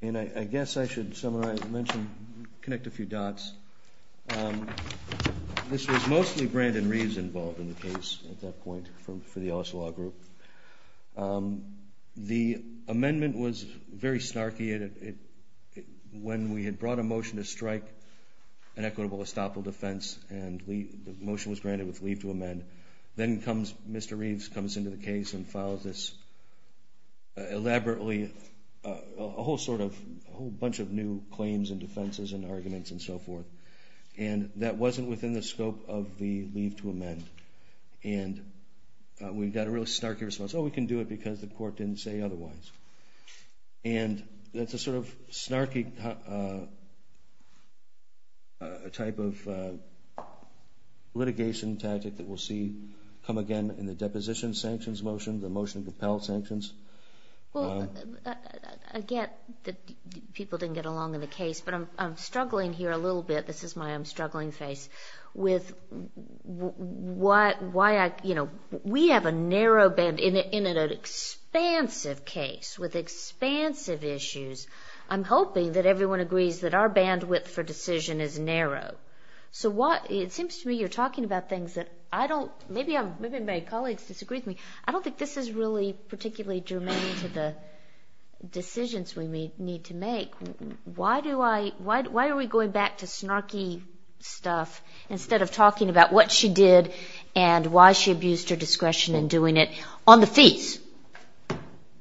And I guess I should summarize, mention, connect a few dots. This was mostly Brandon Reeves involved in the case at that point for the Osawa group. The amendment was very snarky. When we had brought a motion to strike an equitable estoppel defense and the motion was granted with leave to amend, then Mr. Reeves comes into the case and files this elaborately, a whole bunch of new claims and defenses and arguments and so forth. And that wasn't within the scope of the leave to amend. And we got a real snarky response, oh, we can do it because the court didn't say otherwise. And that's a sort of snarky type of litigation tactic that we'll see come again in the deposition sanctions motion, the motion to compel sanctions. Well, again, people didn't get along in the case, but I'm struggling here a little bit. This is my I'm struggling face with why I, you know, we have a narrow band in an expansive case with expansive issues. I'm hoping that everyone agrees that our bandwidth for decision is narrow. So what, it seems to me you're talking about things that I don't, maybe my colleagues disagree with me. I don't think this is really particularly germane to the decisions we need to make. Why do I, why are we going back to snarky stuff instead of talking about what she did and why she abused her discretion in doing it on the feet?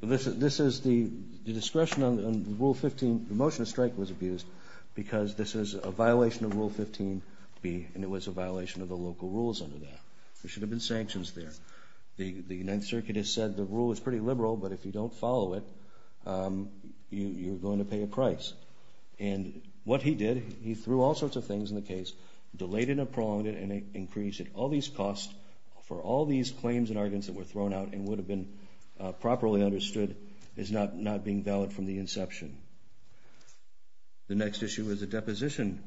This is the discretion on Rule 15, the motion to strike was abused because this is a violation of Rule 15 and it was a violation of the local rules under that. There should have been sanctions there. The 9th Circuit has said the rule is pretty liberal, but if you don't follow it, you're going to pay a price. And what he did, he threw all sorts of things in the case, delayed it and prolonged it and increased it. All these costs for all these claims and arguments that were thrown out and would have been properly understood is not being valid from the inception. The next issue was a deposition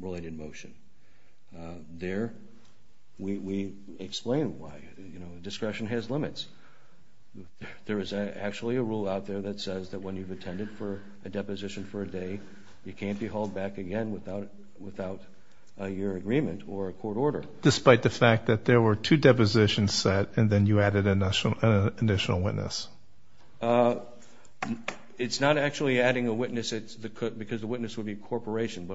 related motion. There, we explain why, you know, discretion has limits. There is actually a rule out there that says that when you've attended for a deposition for a day, you can't be hauled back again without your agreement or a court order. Despite the fact that there were two depositions set and then you added an additional witness. It's not actually adding a witness, it's because the witness would be a corporation.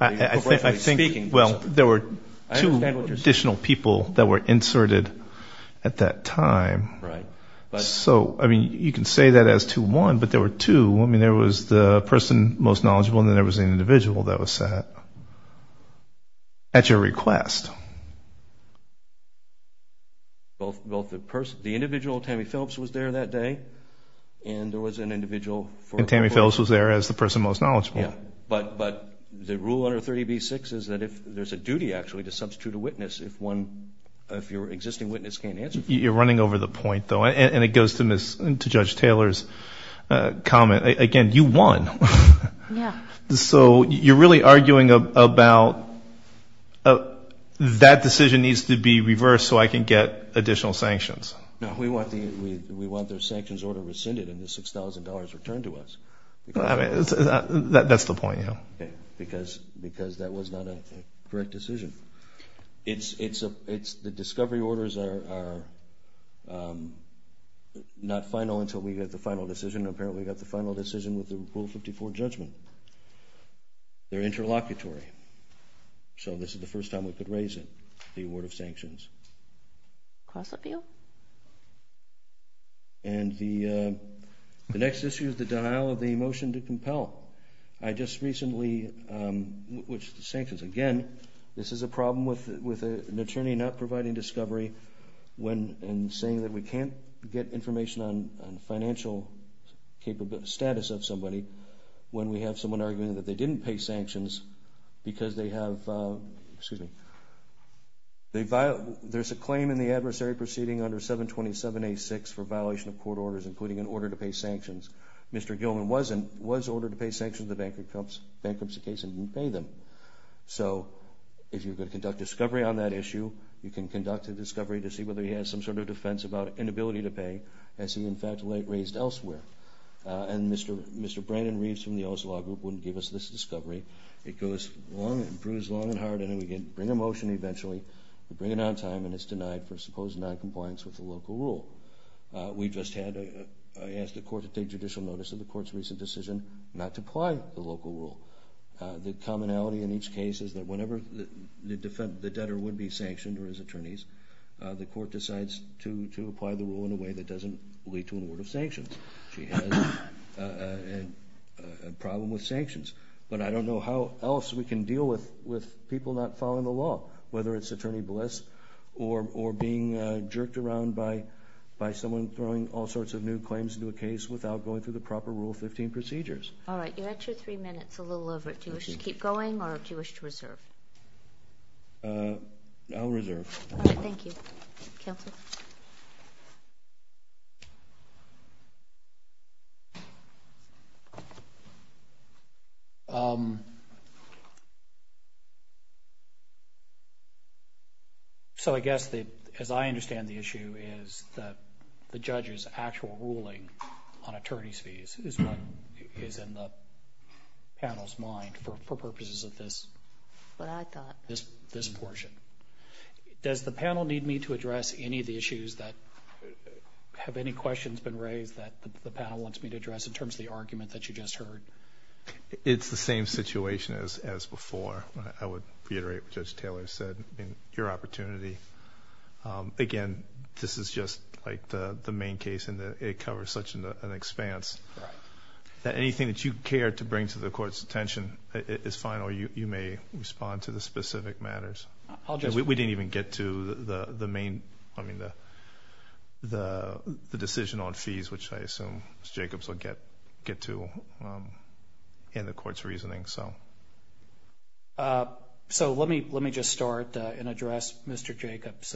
I think, well, there were two additional people that were inserted at that time. Right. So, I mean, you can say that as to one, but there were two. I mean, there was the person most knowledgeable and then there was an individual that was at your request. Well, the individual, Tammy Phillips, was there that day and there was an individual. And Tammy Phillips was there as the person most knowledgeable. Yeah. But the rule under 30B-6 is that there's a duty, actually, to substitute a witness if your existing witness can't answer. You're running over the point, though, and it goes to Judge Taylor's comment. Again, you won. Yeah. So you're really arguing about that decision needs to be reversed so I can get additional sanctions. We want the sanctions order rescinded and the $6,000 returned to us. That's the point, yeah. Because that was not a correct decision. The discovery orders are not final until we get the final decision. Apparently, we got the final decision with the Rule 54 judgment. They're interlocutory. So this is the first time we could raise it, the award of sanctions. Close appeal. And the next issue is the denial of the motion to compel. I just recently, which sanctions again, this is a problem with an attorney not providing discovery and saying that we can't get information on financial status of somebody when we have someone arguing that they didn't pay sanctions because they have, excuse me, there's a claim in the adversary proceeding under 727-A-6 for violation of court orders, including an order to pay sanctions. Mr. Gilman was ordered to pay sanctions. The bank comes to the case and didn't pay them. So if you're going to conduct discovery on that issue, you can conduct a discovery to see whether he has some sort of defense about inability to pay as he, in fact, raised elsewhere. And Mr. Brandon Reeves from the Oslo Law Group wouldn't give us this discovery. It goes on and bruised long and hard, and then we can bring a motion eventually and bring it on time and it's denied for supposed noncompliance with the local rule. We just had a court take judicial notice of the court's recent decision not to apply the local rule. The commonality in each case is that whenever the debtor would be sanctioned or his attorneys, the court decides to apply the rule in a way that doesn't lead to an order of sanctions. He has a problem with sanctions. But I don't know how else we can deal with people not following the law, whether it's Attorney Bliss or being jerked around by someone throwing all sorts of new claims into a case without going through the proper Rule 15 procedures. All right. You have two or three minutes. A little over. Do you wish to keep going or do you wish to reserve? I'll reserve. Thank you. So I guess as I understand the issue is that the judge's actual ruling on attorney's fees is in the panel's mind for purposes of this portion. Does the panel need me to address any of the issues that have any questions been raised that the panel wants me to address in terms of the argument that you just heard? It's the same situation as before. I would reiterate what Judge Taylor said in your opportunity. Again, this is just like the main case and it covers such an expanse that anything that you care to bring to the court's attention is fine or you may respond to the specific matters. We didn't even get to the decision on fees, which I assume Mr. Jacobs will get to in the court's reasoning. So let me just start and address Mr. Jacobs'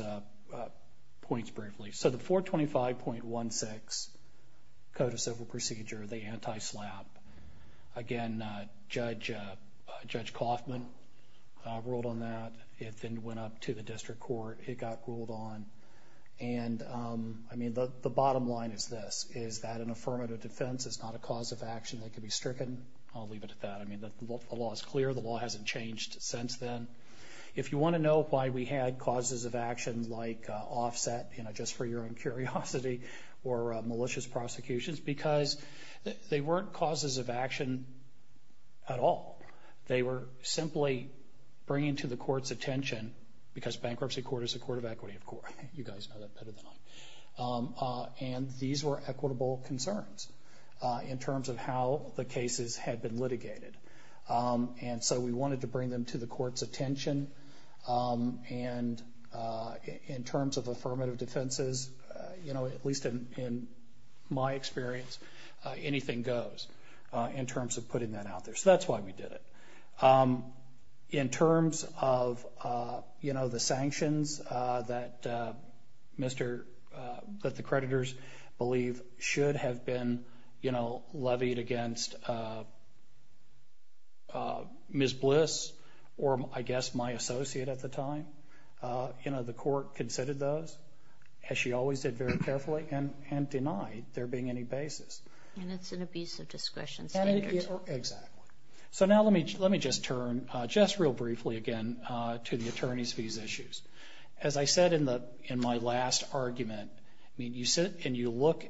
points briefly. So the 425.16 Code of Civil Procedure, the anti-SLAPP, again, Judge Coffman ruled on that. It then went up to the district court. It got ruled on. And I mean, the bottom line is this, is that an affirmative defense is not a cause of action that can be stricken. I'll leave it at that. I mean, the law is clear. The law hasn't changed since then. If you want to know why we had causes of action like offset, you know, just for your own curiosity, or malicious prosecutions, because they weren't causes of action at all. They were simply bringing to the court's attention because bankruptcy court is a court of equity, of course. You guys know that better than I do. And these were equitable concerns in terms of how the cases had been litigated. And so we wanted to bring them to the court's attention. And in terms of affirmative defenses, you know, at least in my experience, anything goes in terms of putting that out there. So that's why we did it. In terms of, you know, the sanctions that the creditors believe should have been, you know, levied against Ms. Bliss, or I guess my associate at the time, you know, the court considered those, as she always did very carefully, and denied there being any basis. That's an abuse of discretion. Exactly. So now let me just turn just real briefly again to the attorney's fees issues. As I said in my last argument, you sit and you look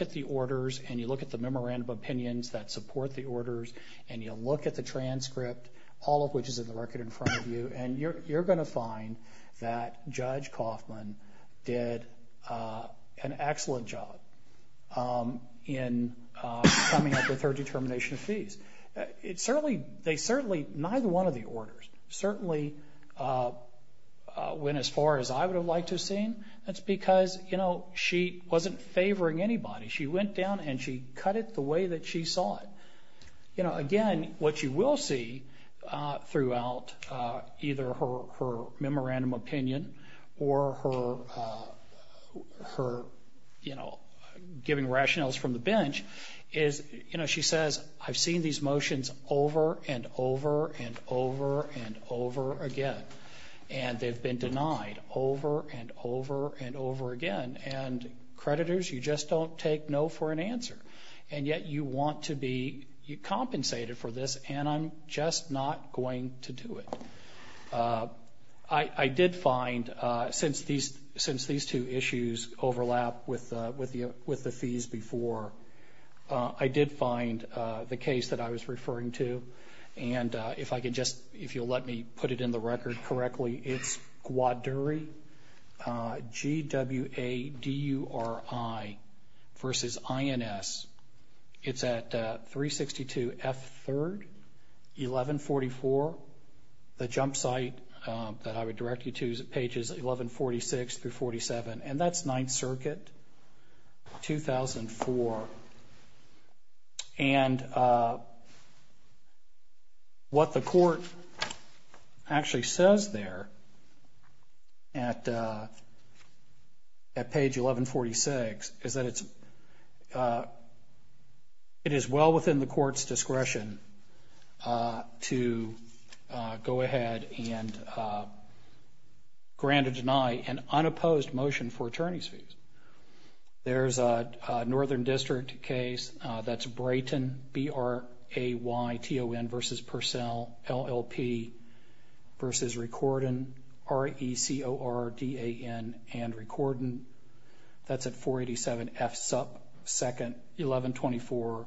at the orders, and you look at the memorandum of opinions that support the orders, and you look at the transcript, all of which is in the record in front of you, and you're going to find that Judge Kaufman did an excellent job in coming up with her determination of fees. They certainly, neither one of the orders, certainly went as far as I would have liked to have seen. That's because, you know, she wasn't favoring anybody. She went down and she cut it the way that she saw it. You know, again, what you will see throughout either her memorandum of opinion or her, you know, giving rationales from the bench is, you know, she says, I've seen these motions over and over and over and over again, and they've been denied over and over and over again, and creditors, you just don't take no for an answer, and yet you want to be compensated for this, and I'm just not going to do it. I did find, since these two issues overlap with the fees before, I did find the case that I was referring to, and if I could just, if you'll let me put it in the record correctly, it's GWADURI, G-W-A-D-U-R-I versus I-N-S. It's at 362 F. 3rd, 1144, the jump site that I would direct you to is pages 1146 through 47, and that's Ninth Circuit, 2004. And what the court actually says there at page 1146 is that it is well within the court's discretion to go ahead and grant or deny an unopposed motion for attorney's fees. There's a Northern District case that's Brayton, B-R-A-Y-T-O-N versus Purcell, L-L-P versus Recordon, R-E-C-O-R-D-A-N and Recordon. That's at 487 F. 2nd, 1124,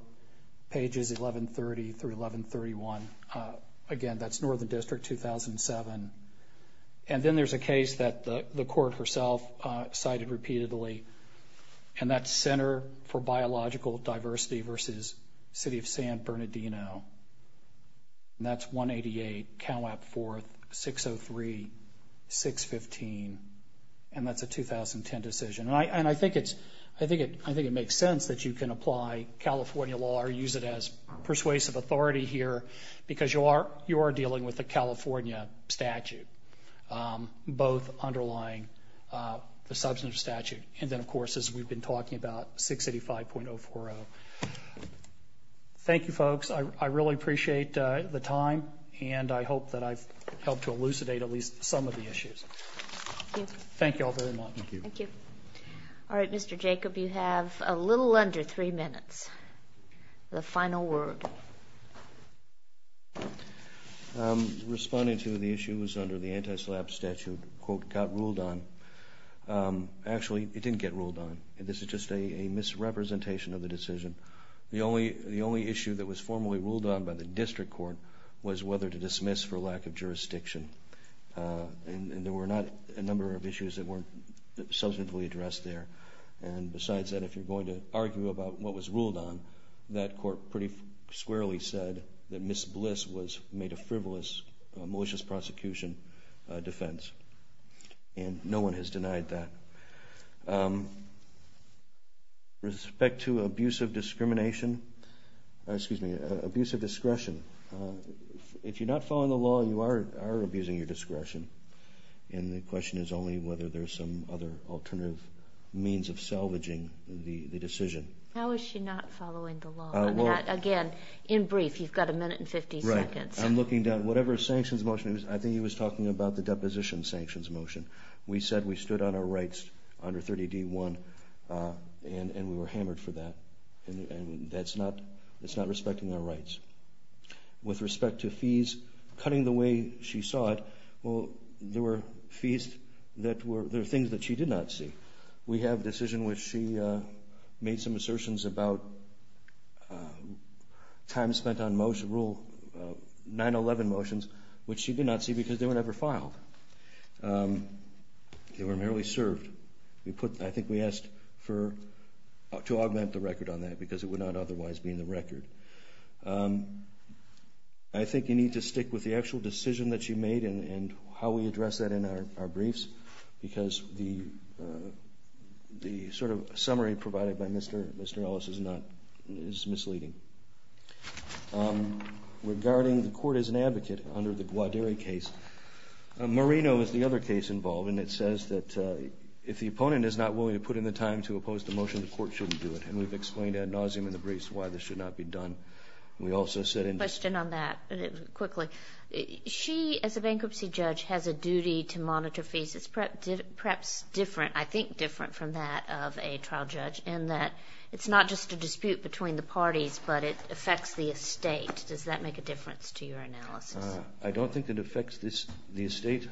pages 1130 through 1131. Again, that's Northern District, 2007. And then there's a case that the court herself cited repeatedly, and that's Center for Biological Diversity versus City of San Bernardino. And that's 188, count out 4th, 603, 615, and that's a 2010 decision. And I think it makes sense that you can apply California law or use it as persuasive authority here because you are dealing with the California statute, both underlying the substantive statute and then, of course, as we've been talking about, 685.040. Thank you, folks. I really appreciate the time, and I hope that I've helped to elucidate at least some of the issues. Thank you all very much. Thank you. Thank you. All right, Mr. Jacob, you have a little under three minutes for the final word. Responding to the issues under the anti-SLAP statute, quote, got ruled on. Actually, it didn't get ruled on. This is just a misrepresentation of the decision. The only issue that was formally ruled on by the district court was whether to dismiss for lack of jurisdiction. And there were not a number of issues that weren't substantively addressed there. And besides that, if you're going to argue about what was ruled on, that court pretty squarely said that Ms. Bliss was made a frivolous malicious prosecution defense. And no one has denied that. Respect to abuse of discrimination, excuse me, abuse of discretion. If you're not following the law, you are abusing your discretion. And the question is only whether there's some other alternative means of salvaging the decision. How is she not following the law? Again, in brief, you've got a minute and 15 seconds. Right. I'm looking down. Whatever sanctions motion it was, I think he was talking about the deposition sanctions motion. We said we stood on our rights under 30D1, and we were hammered for that. And that's not respecting our rights. With respect to fees, cutting the way she saw it, well, there were fees that were things that she did not see. We have a decision where she made some assertions about time spent on rule 911 motions, which she did not see because they were never filed. They were merely served. I think we asked to augment the record on that because it would not otherwise be in the record. I think you need to stick with the actual decision that she made and how we address that in our briefs, because the sort of summary provided by Mr. Ellis is misleading. Regarding the court as an advocate under the Gwaderi case, Marino is the other case involved, and it says that if the opponent is not willing to put in the time to oppose the motion, the court shouldn't do it. And we've explained ad nauseum in the briefs why this should not be done. A question on that quickly. She, as a bankruptcy judge, has a duty to monitor fees. It's perhaps different, I think different from that of a trial judge, in that it's not just a dispute between the parties, but it affects the estate. Does that make a difference to your analysis? I don't think it affects the estate.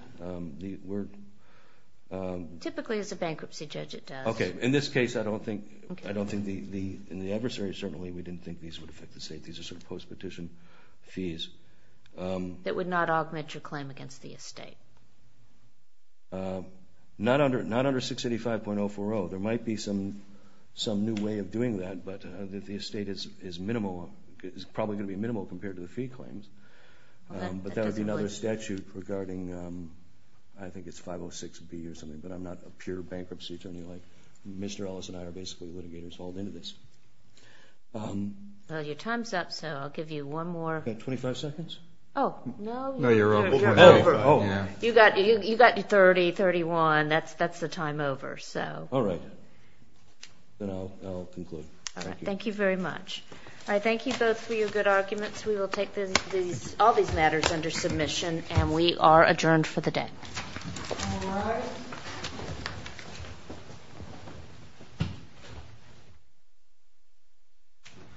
Typically, as a bankruptcy judge, it does. Okay. In this case, I don't think, in the adversary certainly, we didn't think these would affect the estate. These are sort of post-petition fees. It would not augment your claim against the estate? Not under 685.040. There might be some new way of doing that, but the estate is probably going to be minimal compared to the fee claims. But that would be another statute regarding, I think it's 506B or something, but I'm not a pure bankruptcy attorney. Mr. Ellis and I are basically litigators all the way into this. Well, your time's up, so I'll give you one more. Do I have 25 seconds? No, you're over. You got 30, 31. That's the time over. All right. Thank you very much. I thank you both for your good arguments. We will take all these matters under submission, and we are adjourned for the day.